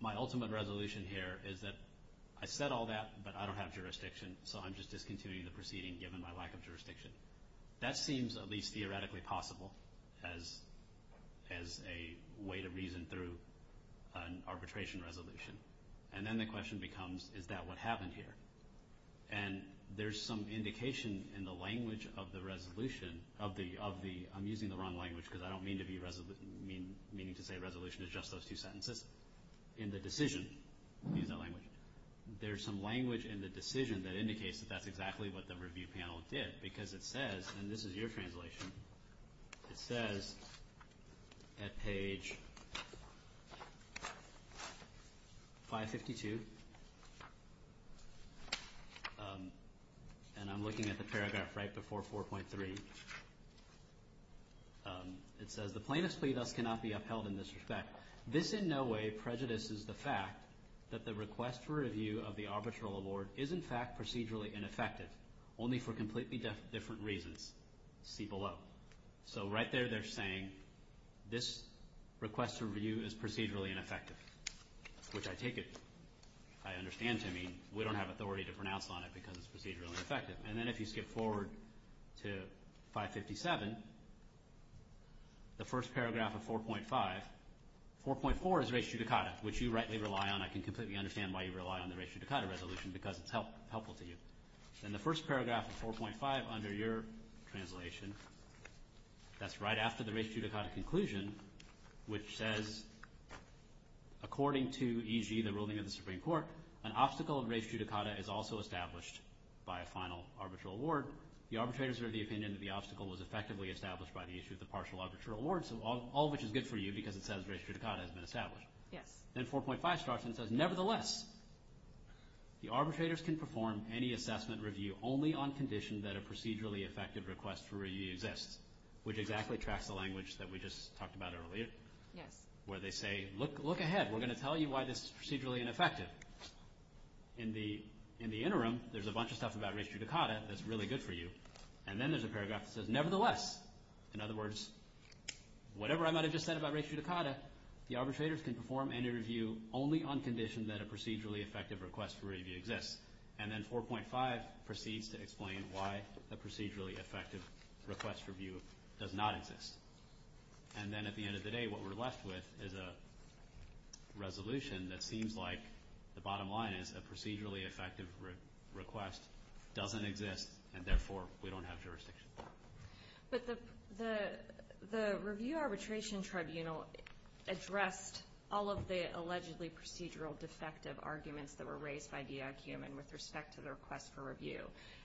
my ultimate resolution here is that I said all that, but I don't have jurisdiction. So I'm just discontinuing the proceeding given my lack of jurisdiction. That seems at least theoretically possible as a way to reason through an arbitration resolution. And then the question becomes, is that what happened here? And there's some indication in the language of the resolution of the, I'm using the wrong language because I don't mean to be, meaning to say resolution is just those two sentences. It's just in the decision. There's some language in the decision that indicates that that's exactly what the review panel did. Because it says, and this is your translation, it says at page 552, and I'm looking at the paragraph right before 4.3, it says the plaintiff's plea thus cannot be upheld in this respect. This in no way prejudices the fact that the request for review of the arbitral award is in fact procedurally ineffective, only for completely different reasons. See below. So right there they're saying this request for review is procedurally ineffective, which I take it, I understand to mean we don't have authority to pronounce on it because it's procedurally ineffective. And then if you skip forward to 557, the first paragraph of 4.5, 4.4 is res judicata, which you rightly rely on. I can completely understand why you rely on the res judicata resolution because it's helpful to you. And the first paragraph of 4.5 under your translation, that's right after the res judicata conclusion, which says according to e.g. the ruling of the Supreme Court, an obstacle of res judicata is also established by a final arbitral award. The arbitrators are of the opinion that the obstacle was effectively established by the issue of the partial arbitral award, all of which is good for you because it says res judicata has been established. Then 4.5 starts and says nevertheless, the arbitrators can perform any assessment review only on condition that a procedurally effective request for review exists, which exactly tracks the language that we just talked about earlier, where they say look ahead, we're going to tell you why this is procedurally ineffective. In the interim, there's a bunch of stuff about res judicata that's really good for you. And then there's a paragraph that says nevertheless. In other words, whatever I might have just said about res judicata, the arbitrators can perform any review only on condition that a procedurally effective request for review exists. And then 4.5 proceeds to explain why a procedurally effective request for review does not exist. And then at the end of the day, what we're left with is a resolution that seems like the bottom line is a procedurally effective request doesn't exist, and therefore we don't have jurisdiction. The review arbitration tribunal addressed all of the allegedly procedural defective arguments that were raised by the IQM and with respect to the request for review.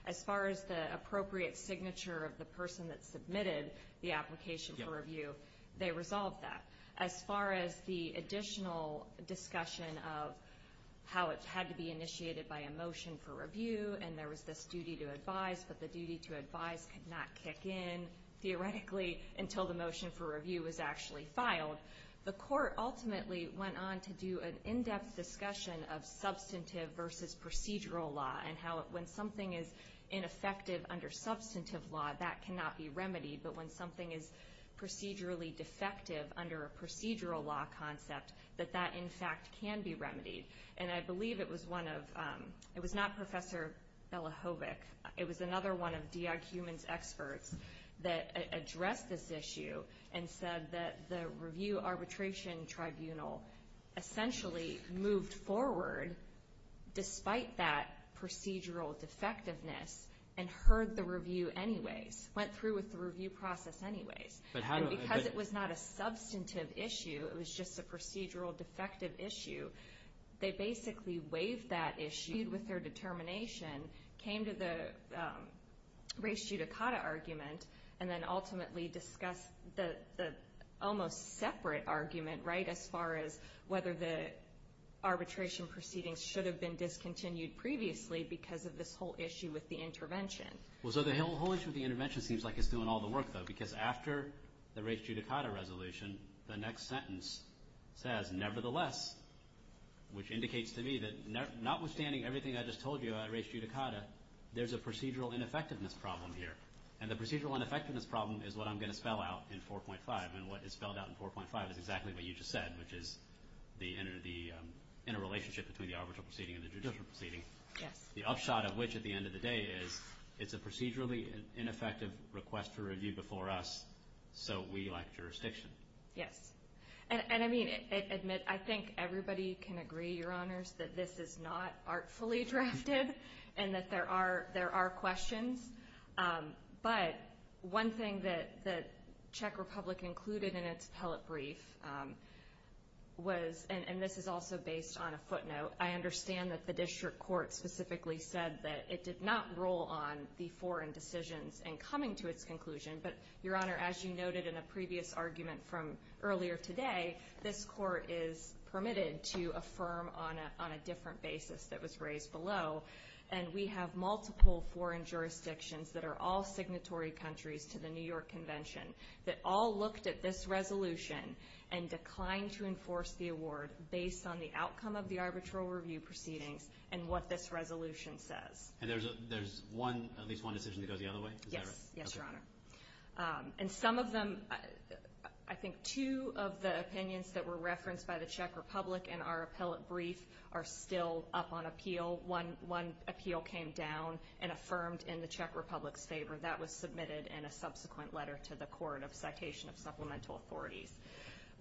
As far as the appropriate signature of the person that submitted the application for review, they resolved that. As far as the additional discussion of how it had to be initiated by a motion for review, and there was this duty to advise, but the duty to advise could not kick in theoretically until the motion for review was actually filed. The court ultimately went on to do an in-depth discussion of substantive versus procedural law and how when something is procedurally defective under a procedural law concept, that that in fact can be remedied. And I believe it was one of, it was not Professor Belahovic, it was another one of the IQM's experts that addressed this issue and said that the review arbitration tribunal essentially moved forward despite that procedural defectiveness and heard the review anyway, went through with the review process anyway. Because it was not a substantive issue, it was just a procedural defective issue, they basically waived that issue with their determination, came to the race judicata argument, and then ultimately discussed the almost separate argument, right, as far as whether the arbitration proceedings should have been discontinued previously because of this whole issue with the intervention. Well, so the whole issue with the intervention seems like it's doing all the work, though, because after the race judicata resolution, the next sentence says, nevertheless, which indicates to me that notwithstanding everything I just told you about race judicata, there's a procedural ineffectiveness problem here. And the procedural ineffectiveness of the interrelationship between the arbitration proceeding and the judicial proceeding, the upshot of which at the end of the day is it's a procedurally ineffective request to review before us, so we elect jurisdiction. Yes. And I mean, admit, I think everybody can agree, Your Honors, that this is not artfully drafted and that there are questions. But one thing that Czech Republic included in its telebrief was, and this is also based on a footnote, I understand that the district court specifically said that it did not roll on the foreign decisions in coming to its conclusion. But, Your Honor, as you noted in a previous argument from earlier today, this court is permitted to affirm on a different basis that was in the New York Convention that all looked at this resolution and declined to enforce the award based on the outcome of the arbitral review proceeding and what this resolution says. And there's one decision to go the other way? Is that right? Yes, Your Honor. And some of them, I think two of the opinions that were referenced by the Czech Republic in our appellate brief are still up on appeal. One appeal came down and affirmed in the Czech Republic's favor. That was submitted in a subsequent letter to the court of citation of supplemental authority.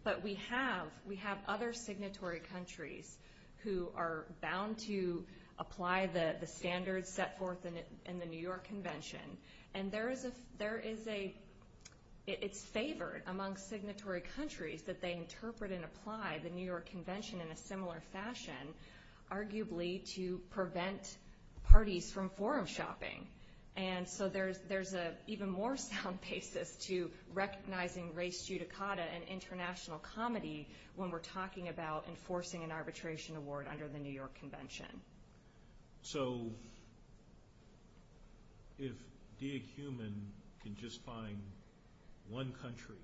But we have other signatory countries who are bound to apply the standards set forth in the New York Convention. And there is a, it's favored among signatory countries that they interpret and apply the New York Convention in a similar fashion, arguably to prevent parties from forum shopping. And so there's an even more sound basis to recognizing res judicata and international comedy when we're talking about enforcing an arbitration award under the New York Convention. So, if the human can just find one country,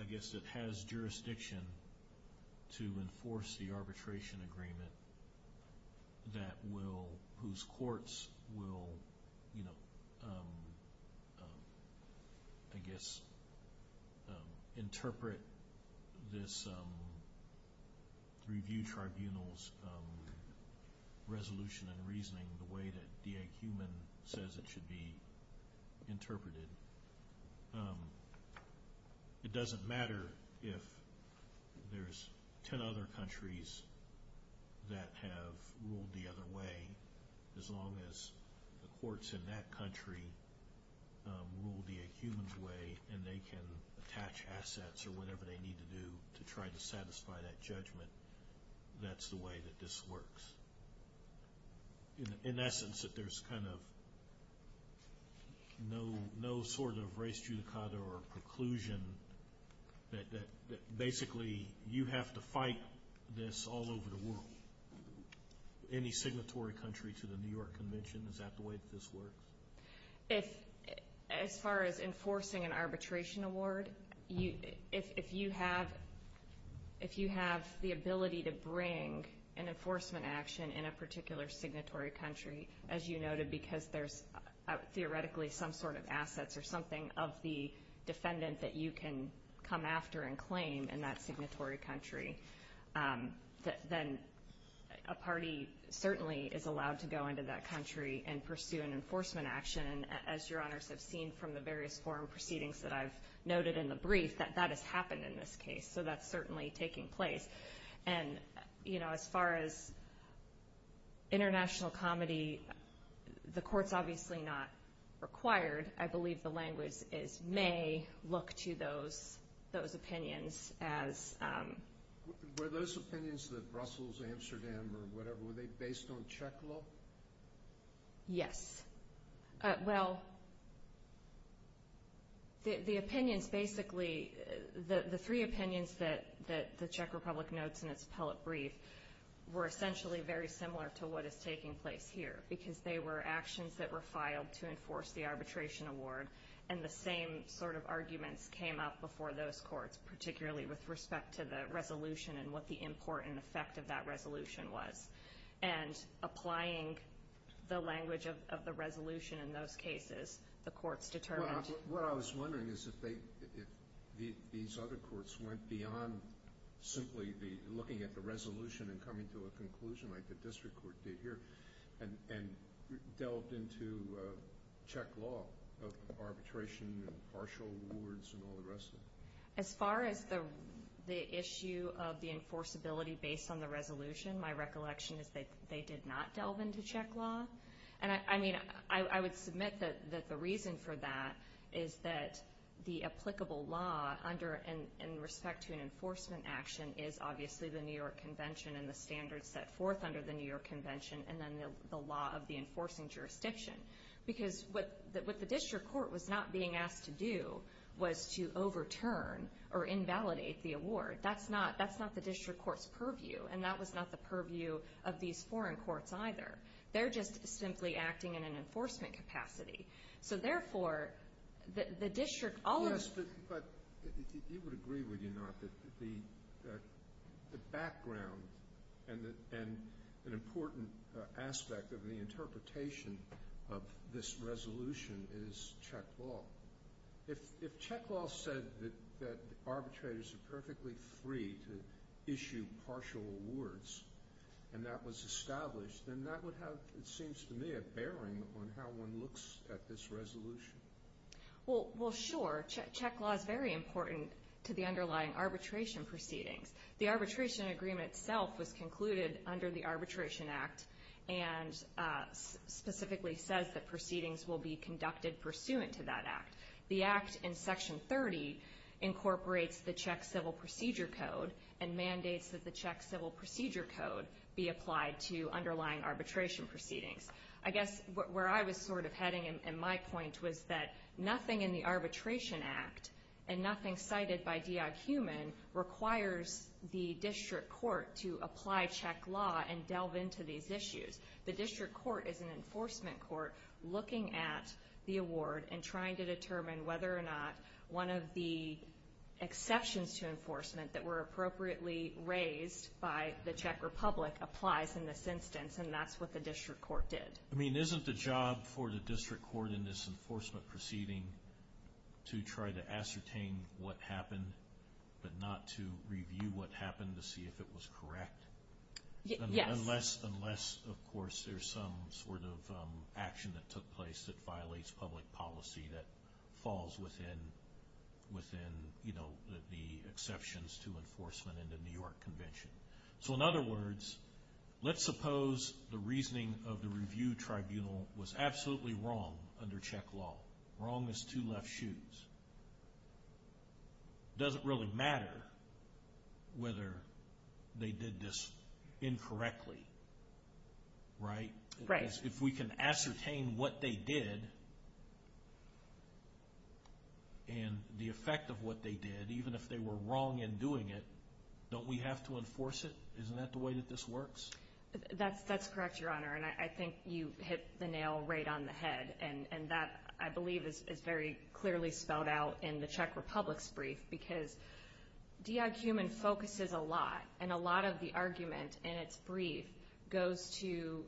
I guess that has jurisdiction to enforce the arbitration agreement that will, whose courts will, you know, I guess interpret this review tribunal's resolution and reasoning the way that DA Heumann says it should be interpreted. It doesn't matter if there's ten other countries that have ruled the other way as long as the courts in that country will be a human's way and they can attach assets or whatever they need to do to try to satisfy that judgment. That's the way that this works. In essence, if there's kind of no sort of res judicata or conclusion that basically you have to fight this all over the world, any signatory country to the New York Convention, is that the way that this works? As far as enforcing an arbitration award, if you have the ability to bring an enforcement action in a particular signatory country, as you noted, because there's theoretically some sort of assets or something of the defendant that you can come after and claim in that signatory country, then a party certainly is allowed to go into that country and pursue an enforcement action. As Your Honors have seen from the various foreign proceedings that I've noted in the brief, that has happened in this case. So that's certainly taking place. As far as international comedy, the court's obviously not required. I believe the language is may look to those opinions as... Were those opinions that Brussels answered in or whatever, were they based on Czech law? Yes. Well, the opinions basically, the three opinions that the Czech Republic notes in its appellate brief were essentially very similar to what is taking place here, because they were actions that were filed to enforce the arbitration award, and the same sort of arguments came up before those courts, particularly with respect to the resolution and what the resolution in those cases, the courts determined. What I was wondering is if these other courts went beyond simply looking at the resolution and coming to a conclusion like the district court did here, and delved into Czech law of arbitration and partial awards and all the rest of it. As far as the issue of the I would submit that the reason for that is that the applicable law in respect to an enforcement action is obviously the New York Convention and the standards set forth under the New York Convention and then the law of the enforcing jurisdiction. Because what the district court was not being asked to do was to overturn or invalidate the award. That's not the district court's purview, and that's not the purview of these foreign courts either. They're just simply acting in an enforcement capacity. So therefore, the district... The background and an important aspect of the interpretation of this resolution is Czech law. If Czech law said that arbitrators are perfectly free to issue partial awards and that was established, then that would have, it seems to me, a bearing on how one looks at this resolution. Well, sure. Czech law is very important to the underlying arbitration proceedings. The arbitration agreement itself was concluded under the Arbitration Act and specifically says that proceedings will be conducted pursuant to that Act. The Act in Section 30 incorporates the Czech Civil Procedure Code and mandates that the Czech Civil Procedure Code be applied to underlying arbitration proceedings. I guess where I was sort of heading in my point was that nothing in the Arbitration Act and nothing cited by The district court is an enforcement court looking at the award and trying to determine whether or not one of the exceptions to enforcement that were appropriately raised by the Czech Republic applies in this instance, and that's what the district court did. I mean, isn't the job for the district court in this enforcement proceeding to try to ascertain what happened but not to review what happened to see if it was correct? Unless, of course, there's some sort of action that took place that violates public policy that falls within the exceptions to enforcement in the New York Convention. So in other words, let's suppose the reasoning of the review tribunal was absolutely wrong under Czech law, wrong as two left shoes. It doesn't really matter whether they did this incorrectly. Right? If we can ascertain what they did and the effect of what they did, even if they were wrong in doing it, don't we have to enforce it? Isn't that the way that this works? That's correct, Your Honor, and I think you hit the nail right on the head, and that, I believe, is very clearly spelled out in the Czech Republic's brief because DI Human focuses a lot, and a lot of the argument in its brief goes to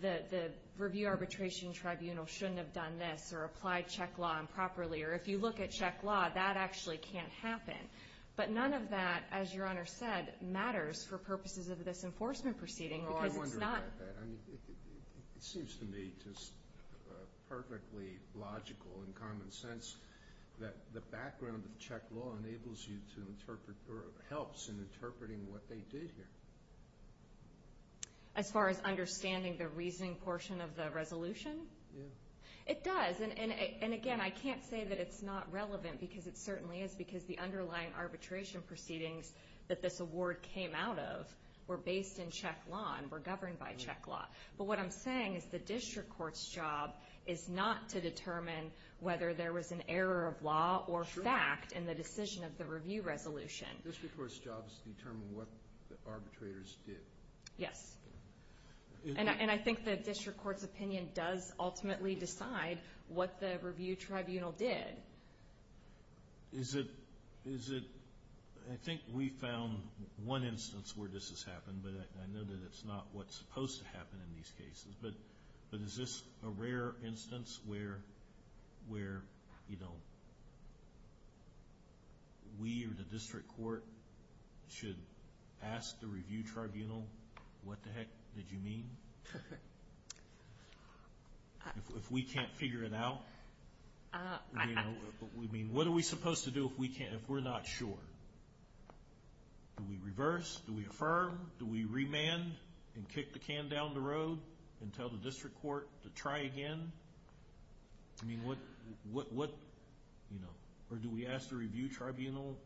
the review arbitration tribunal shouldn't have done this or applied Czech law improperly, or if you look at Czech law, that actually can't happen. But none of that, as Your Honor said, matters for purposes of this enforcement proceeding. It seems to me just perfectly logical and common sense that the background of Czech law helps in interpreting what they did here. As far as understanding the reasoning portion of the resolution? It does, and again, I can't say that it's not relevant because it certainly is because the underlying arbitration proceedings that this award came out of were based in Czech law and were governed by Czech law. But what I'm saying is the district court's job is not to determine whether there was an error of law or fact in the decision of the review resolution. District court's job is to determine what the arbitrators did. Yes, and I think the district court's opinion does ultimately decide what the review tribunal did. I think we found one instance where this has happened, but I know that it's not what's supposed to happen in these cases. But is this a rare instance where we or the district court should ask the review tribunal, what the heck did you mean? If we can't figure it out? What are we supposed to do if we're not sure? Do we reverse? Do we affirm? Do we remand and kick the can down the road and tell the district court to try again? Or do we ask the review tribunal,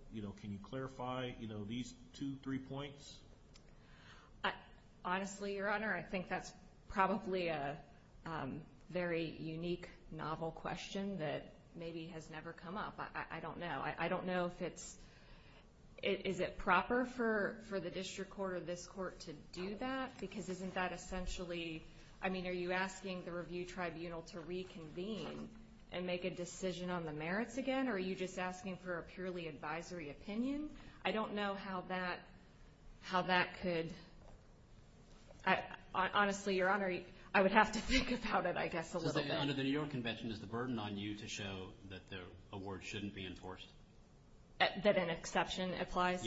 can you clarify these two, three points? Honestly, Your Honor, I think that's probably a very unique, novel question that maybe has never come up. I don't know. Is it proper for the district court or this court to do that? Because isn't that essentially, I mean, are you asking the review tribunal to reconvene and make a decision on the merits again, or are you just asking for a purely advisory opinion? I don't know how that could, honestly, Your Honor, I would have to think about it, I guess, a little bit. Under the New York Convention, is the burden on you to show that the award shouldn't be enforced? That an exception applies?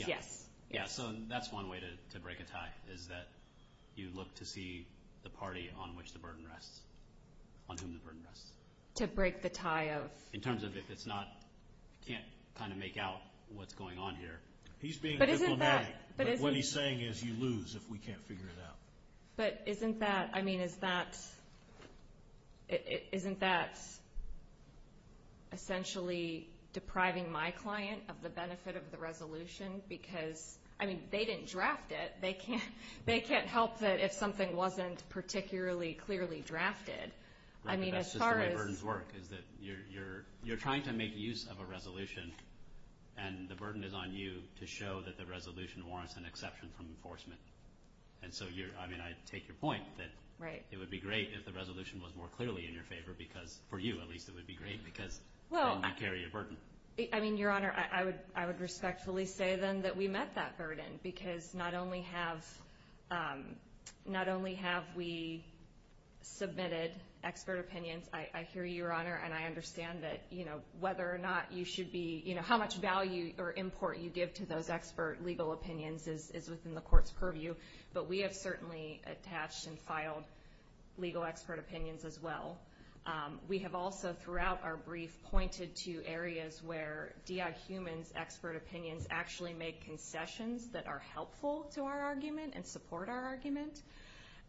Yeah, so that's one way to break a tie, is that you look to see the party on whom the burden rests. To break the tie of? In terms of if it's not, can't kind of make out what's going on here. He's being diplomatic, but what he's saying is you lose if we can't figure it out. But isn't that, I mean, isn't that essentially depriving my client of the benefit of the resolution? Because, I mean, they didn't draft it. They can't help that if something wasn't particularly clearly drafted. That's just the way burdens work, is that you're trying to make use of a resolution, and the burden is on you to show that the resolution warrants an exception from enforcement. And so, I mean, I take your point that it would be great if the resolution was more clearly in your favor, because for you, at least, it would be great, because you wouldn't carry a burden. I mean, Your Honor, I would respectfully say, then, that we met that burden, because not only have we submitted expert opinions, I hear you, Your Honor, and I understand that, you know, whether or not you should be, you know, how much value or import you give to those expert legal opinions is within the court's purview, but we have certainly attached and filed legal expert opinions as well. We have also, throughout our brief, pointed to areas where DI Human's expert opinions actually make concessions that are helpful to our argument and support our argument.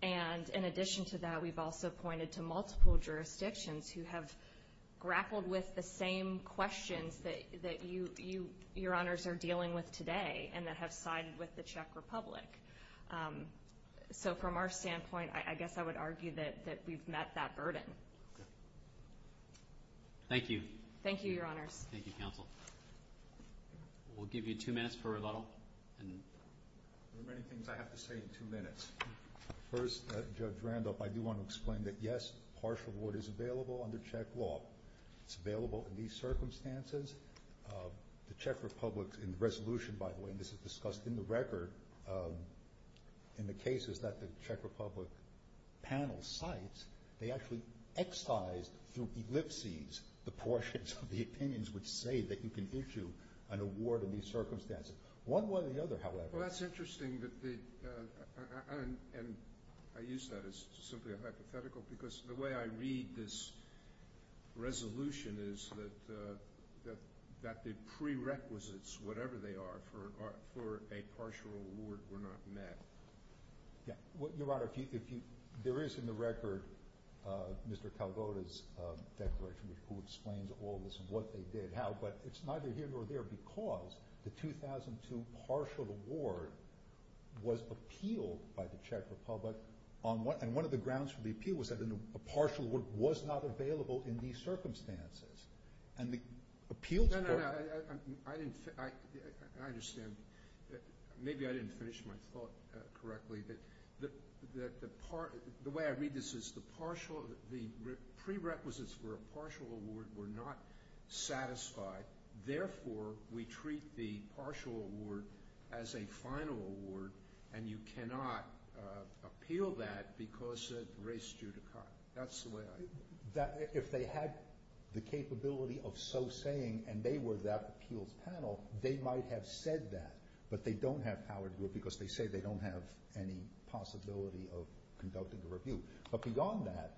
And in addition to that, we've also pointed to multiple jurisdictions who have grappled with the same questions that you, Your Honors, are dealing with today and that have sided with the Czech Republic. So from our standpoint, I guess I would argue that we've met that burden. Thank you. Thank you, Your Honor. Thank you, Counsel. We'll give you two minutes for rebuttal. There are many things I have to say in two minutes. First, Judge Randolph, I do want to explain that, yes, partial reward is available under Czech law. It's available in these circumstances. The Czech Republic, in the resolution, by the way, and this is discussed in the record, in the cases that the Czech Republic panel cites, they actually excise through ellipses the portions of the opinions which say that you can issue an award in these circumstances. One way or the other, however. Well, that's interesting that they, and I use that as simply a hypothetical because the way I read this resolution is that the prerequisites, whatever they are, for a partial award were not met. Your Honor, there is in the record Mr. Calvota's declaration which explains all this, what they did, how, but it's neither here nor there because the 2002 partial award was appealed by the Czech Republic and one of the grounds for the appeal was that a partial award was not available in these circumstances. No, no, I understand. Maybe I didn't finish my thought correctly. The way I read this is the prerequisites for a partial award were not satisfied. Therefore, we treat the partial award as a final award and you cannot appeal that because it raised you to cut. That's the way I read it. If they had the capability of so saying and they were that appealed panel, they might have said that, but they don't have power to do it because they say they don't have any possibility of conducting a review. But beyond that,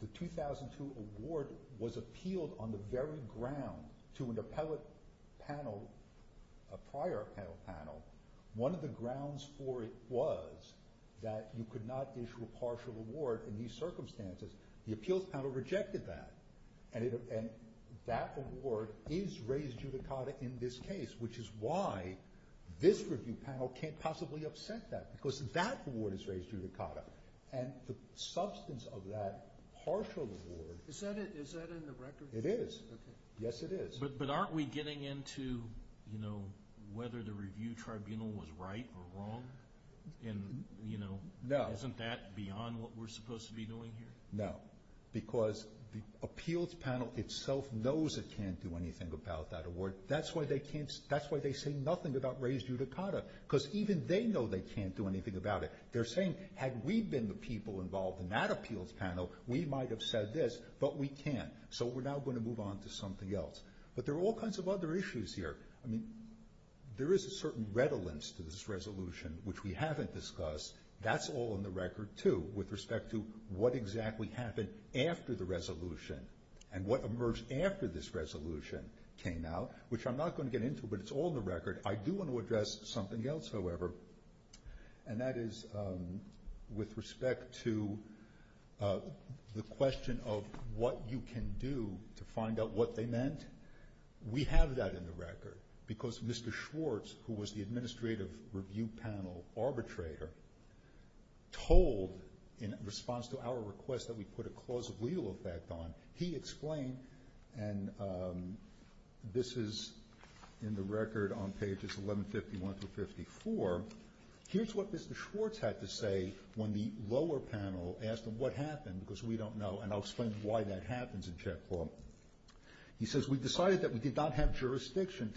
the 2002 award was appealed on the very ground to an appellate panel, a prior panel. One of the grounds for it was that you could not issue a partial award in these circumstances. The appealed panel rejected that and that award is raised judicata in this case, which is why this review panel can't possibly upset that because that award is raised judicata and the substance of that partial award. Is that in the record? It is. Yes, it is. But aren't we getting into whether the review tribunal was right or wrong? Isn't that beyond what we're supposed to be doing here? No, because the appeals panel itself knows it can't do anything about that award. That's why they say nothing about raised judicata because even they know they can't do anything about it. They're saying, had we been the people involved in that appeals panel, we might have said this, but we can't. So we're now going to move on to something else. But there are all kinds of other issues here. I mean, there is a certain redolence to this resolution, which we haven't discussed. That's all in the record, too, with respect to what exactly happened after the resolution and what emerged after this resolution came out, which I'm not going to get into, but it's all in the record. I do want to address something else, however, and that is with respect to the question of what you can do to find out what they meant. We have that in the record because Mr. Schwartz, who was the administrative review panel arbitrator, told in response to our request that we put a clause of legal effect on. He explained, and this is in the record on pages 1151 through 54, here's what Mr. Schwartz had to say when the lower panel asked him what happened because we don't know, and I'll explain why that happens in check. He says, we decided that we did not have jurisdiction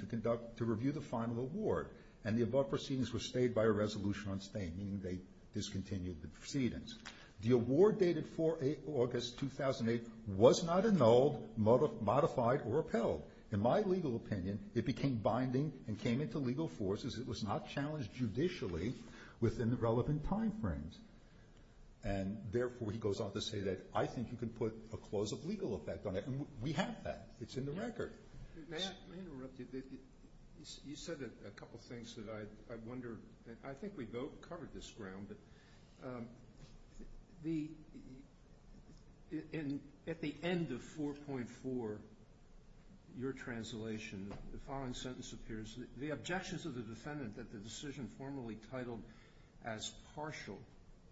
to review the final award, and the above proceedings were stayed by a resolution on staying, meaning they discontinued the proceedings. The award dated 4 August 2008 was not annulled, modified, or upheld. In my legal opinion, it became binding and came into legal force as it was not challenged judicially within the relevant time frames. And, therefore, he goes on to say that I think you can put a clause of legal effect on it, and we have that. It's in the record. May I interrupt you? You said a couple of things that I wonder. I think we both covered this ground. At the end of 4.4, your translation, the following sentence appears. The objections of the defendant that the decision formerly titled as partial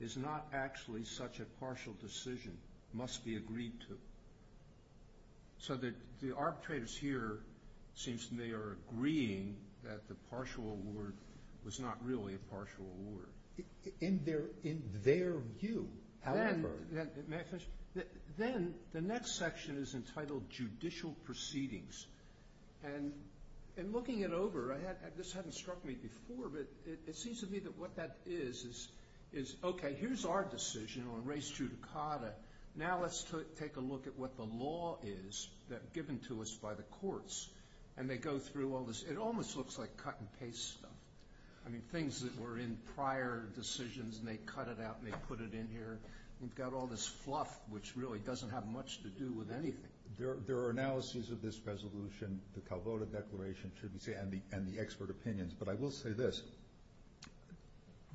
is not actually such a partial decision must be agreed to. So the arbitrators here seem to be agreeing that the partial award was not really a partial award. In their view, however. Then the next section is entitled judicial proceedings, and in looking it over, this hasn't struck me before, but it seems to me that what that is is, okay, here's our decision on res judicata. Now let's take a look at what the law is that's given to us by the courts, and they go through all this. It almost looks like cut and paste stuff. I mean, things that were in prior decisions, and they cut it out and they put it in here. You've got all this fluff, which really doesn't have much to do with anything. There are analyses of this resolution, the Calvota Declaration, and the expert opinions, but I will say this.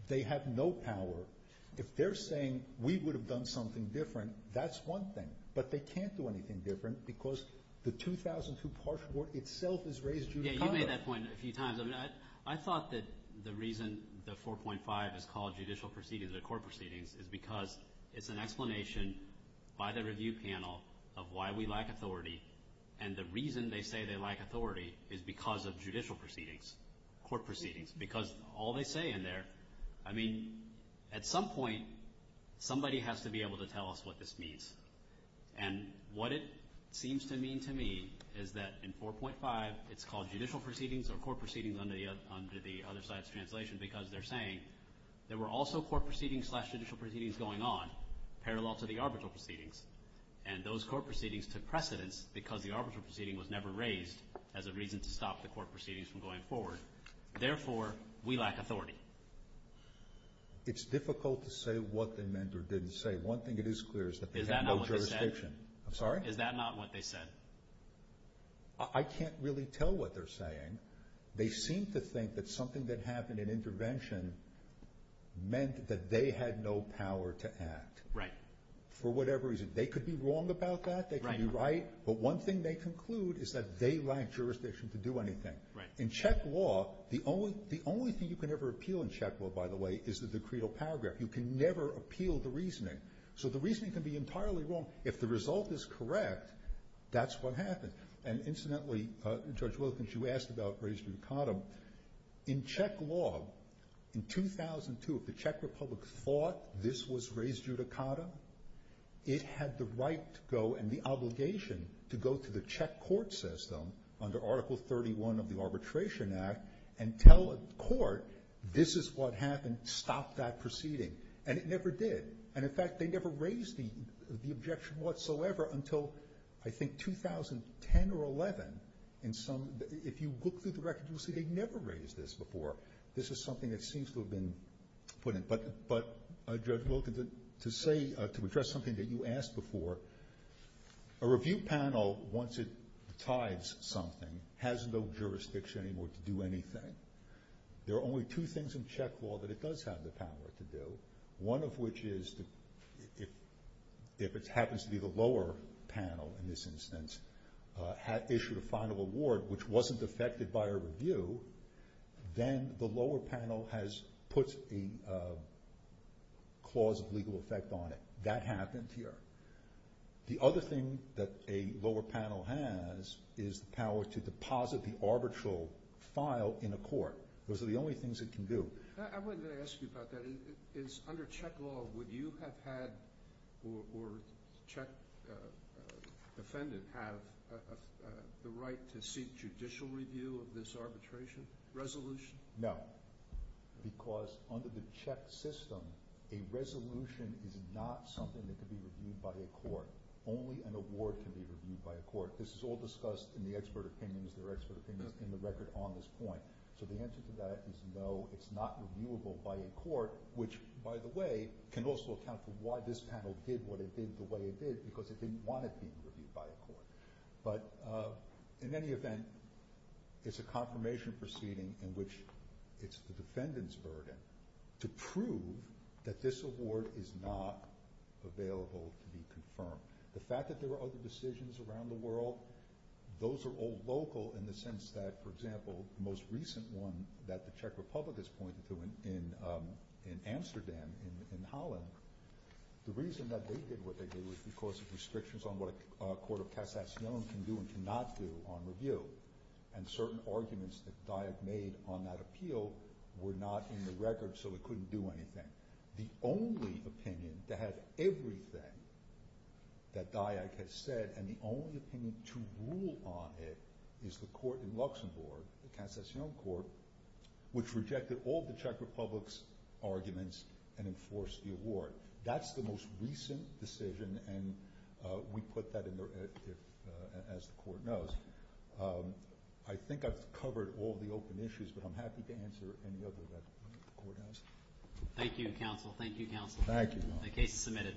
They had no power. If they're saying we would have done something different, that's one thing. But they can't do anything different because the 2002 partial award itself is res judicata. Yeah, you made that point a few times. I thought that the reason the 4.5 is called judicial proceedings or court proceedings is because it's an explanation by the review panel of why we lack authority, and the reason they say they lack authority is because of judicial proceedings, court proceedings. Because all they say in there, I mean, at some point somebody has to be able to tell us what this means. And what it seems to mean to me is that in 4.5 it's called judicial proceedings or court proceedings under the other side's translation because they're saying there were also court proceedings slash judicial proceedings going on parallel to the arbitral proceedings, and those court proceedings took precedence because the arbitral proceeding was never raised as a reason to stop the court proceedings from going forward. Therefore, we lack authority. It's difficult to say what they meant or didn't say. One thing that is clear is that they had no jurisdiction. Is that not what they said? I'm sorry? Is that not what they said? I can't really tell what they're saying. They seem to think that something that happened in intervention meant that they had no power to act. Right. For whatever reason. They could be wrong about that. They could be right. But one thing they conclude is that they lack jurisdiction to do anything. Right. In Czech law, the only thing you can ever appeal in Czech law, by the way, is the decreal paragraph. You can never appeal the reasoning. So the reasoning can be entirely wrong. If the result is correct, that's what happened. And incidentally, Judge Wilkins, you asked about res judicatum. In Czech law, in 2002, if the Czech Republic thought this was res judicatum, it had the right to go and the obligation to go to the Czech court system under Article 31 of the Arbitration Act and tell a court, this is what happened. Stop that proceeding. And it never did. And in fact, they never raised the objection whatsoever until I think 2010 or 11. If you look through the records, you'll see they never raised this before. This is something that seems to have been put in. But, Judge Wilkins, to address something that you asked before, a review panel, once it tithes something, has no jurisdiction anymore to do anything. There are only two things in Czech law that it does have the power to do, one of which is, if it happens to be the lower panel in this instance, had issued a final award which wasn't affected by a review, then the lower panel has put a clause of legal effect on it. That happens here. The other thing that a lower panel has is the power to deposit the arbitral file in a court. Those are the only things it can do. I wanted to ask you about that. Under Czech law, would you have had, or a Czech defendant, have the right to seek judicial review of this arbitration resolution? No. Because under the Czech system, a resolution is not something that can be reviewed by a court. Only an award can be reviewed by a court. This is all discussed in the expert opinions, their expert opinions, in the record on this point. So the answer to that is no, it's not reviewable by a court, which, by the way, can also account for why this panel did what it did the way it did, because they didn't want it to be reviewed by a court. But in any event, it's a confirmation proceeding in which it's the defendant's burden to prove that this award is not available to be confirmed. The fact that there are other decisions around the world, those are all local in the sense that, for example, the most recent one that the Czech Republic has pointed to in Amsterdam, in Holland, the reason that they did what they did was because of restrictions on what a court of cassation can do and cannot do on review. And certain arguments that Dyack made on that appeal were not in the record, so they couldn't do anything. The only opinion that has everything that Dyack has said, and the only opinion to rule on it, is the court in Luxembourg, the cassation court, which rejected all the Czech Republic's arguments and enforced the award. That's the most recent decision, and we put that in there as the court knows. I think I've covered all the open issues, but I'm happy to answer any other that the court has. Thank you, counsel. Thank you, counsel. Thank you. The case is submitted.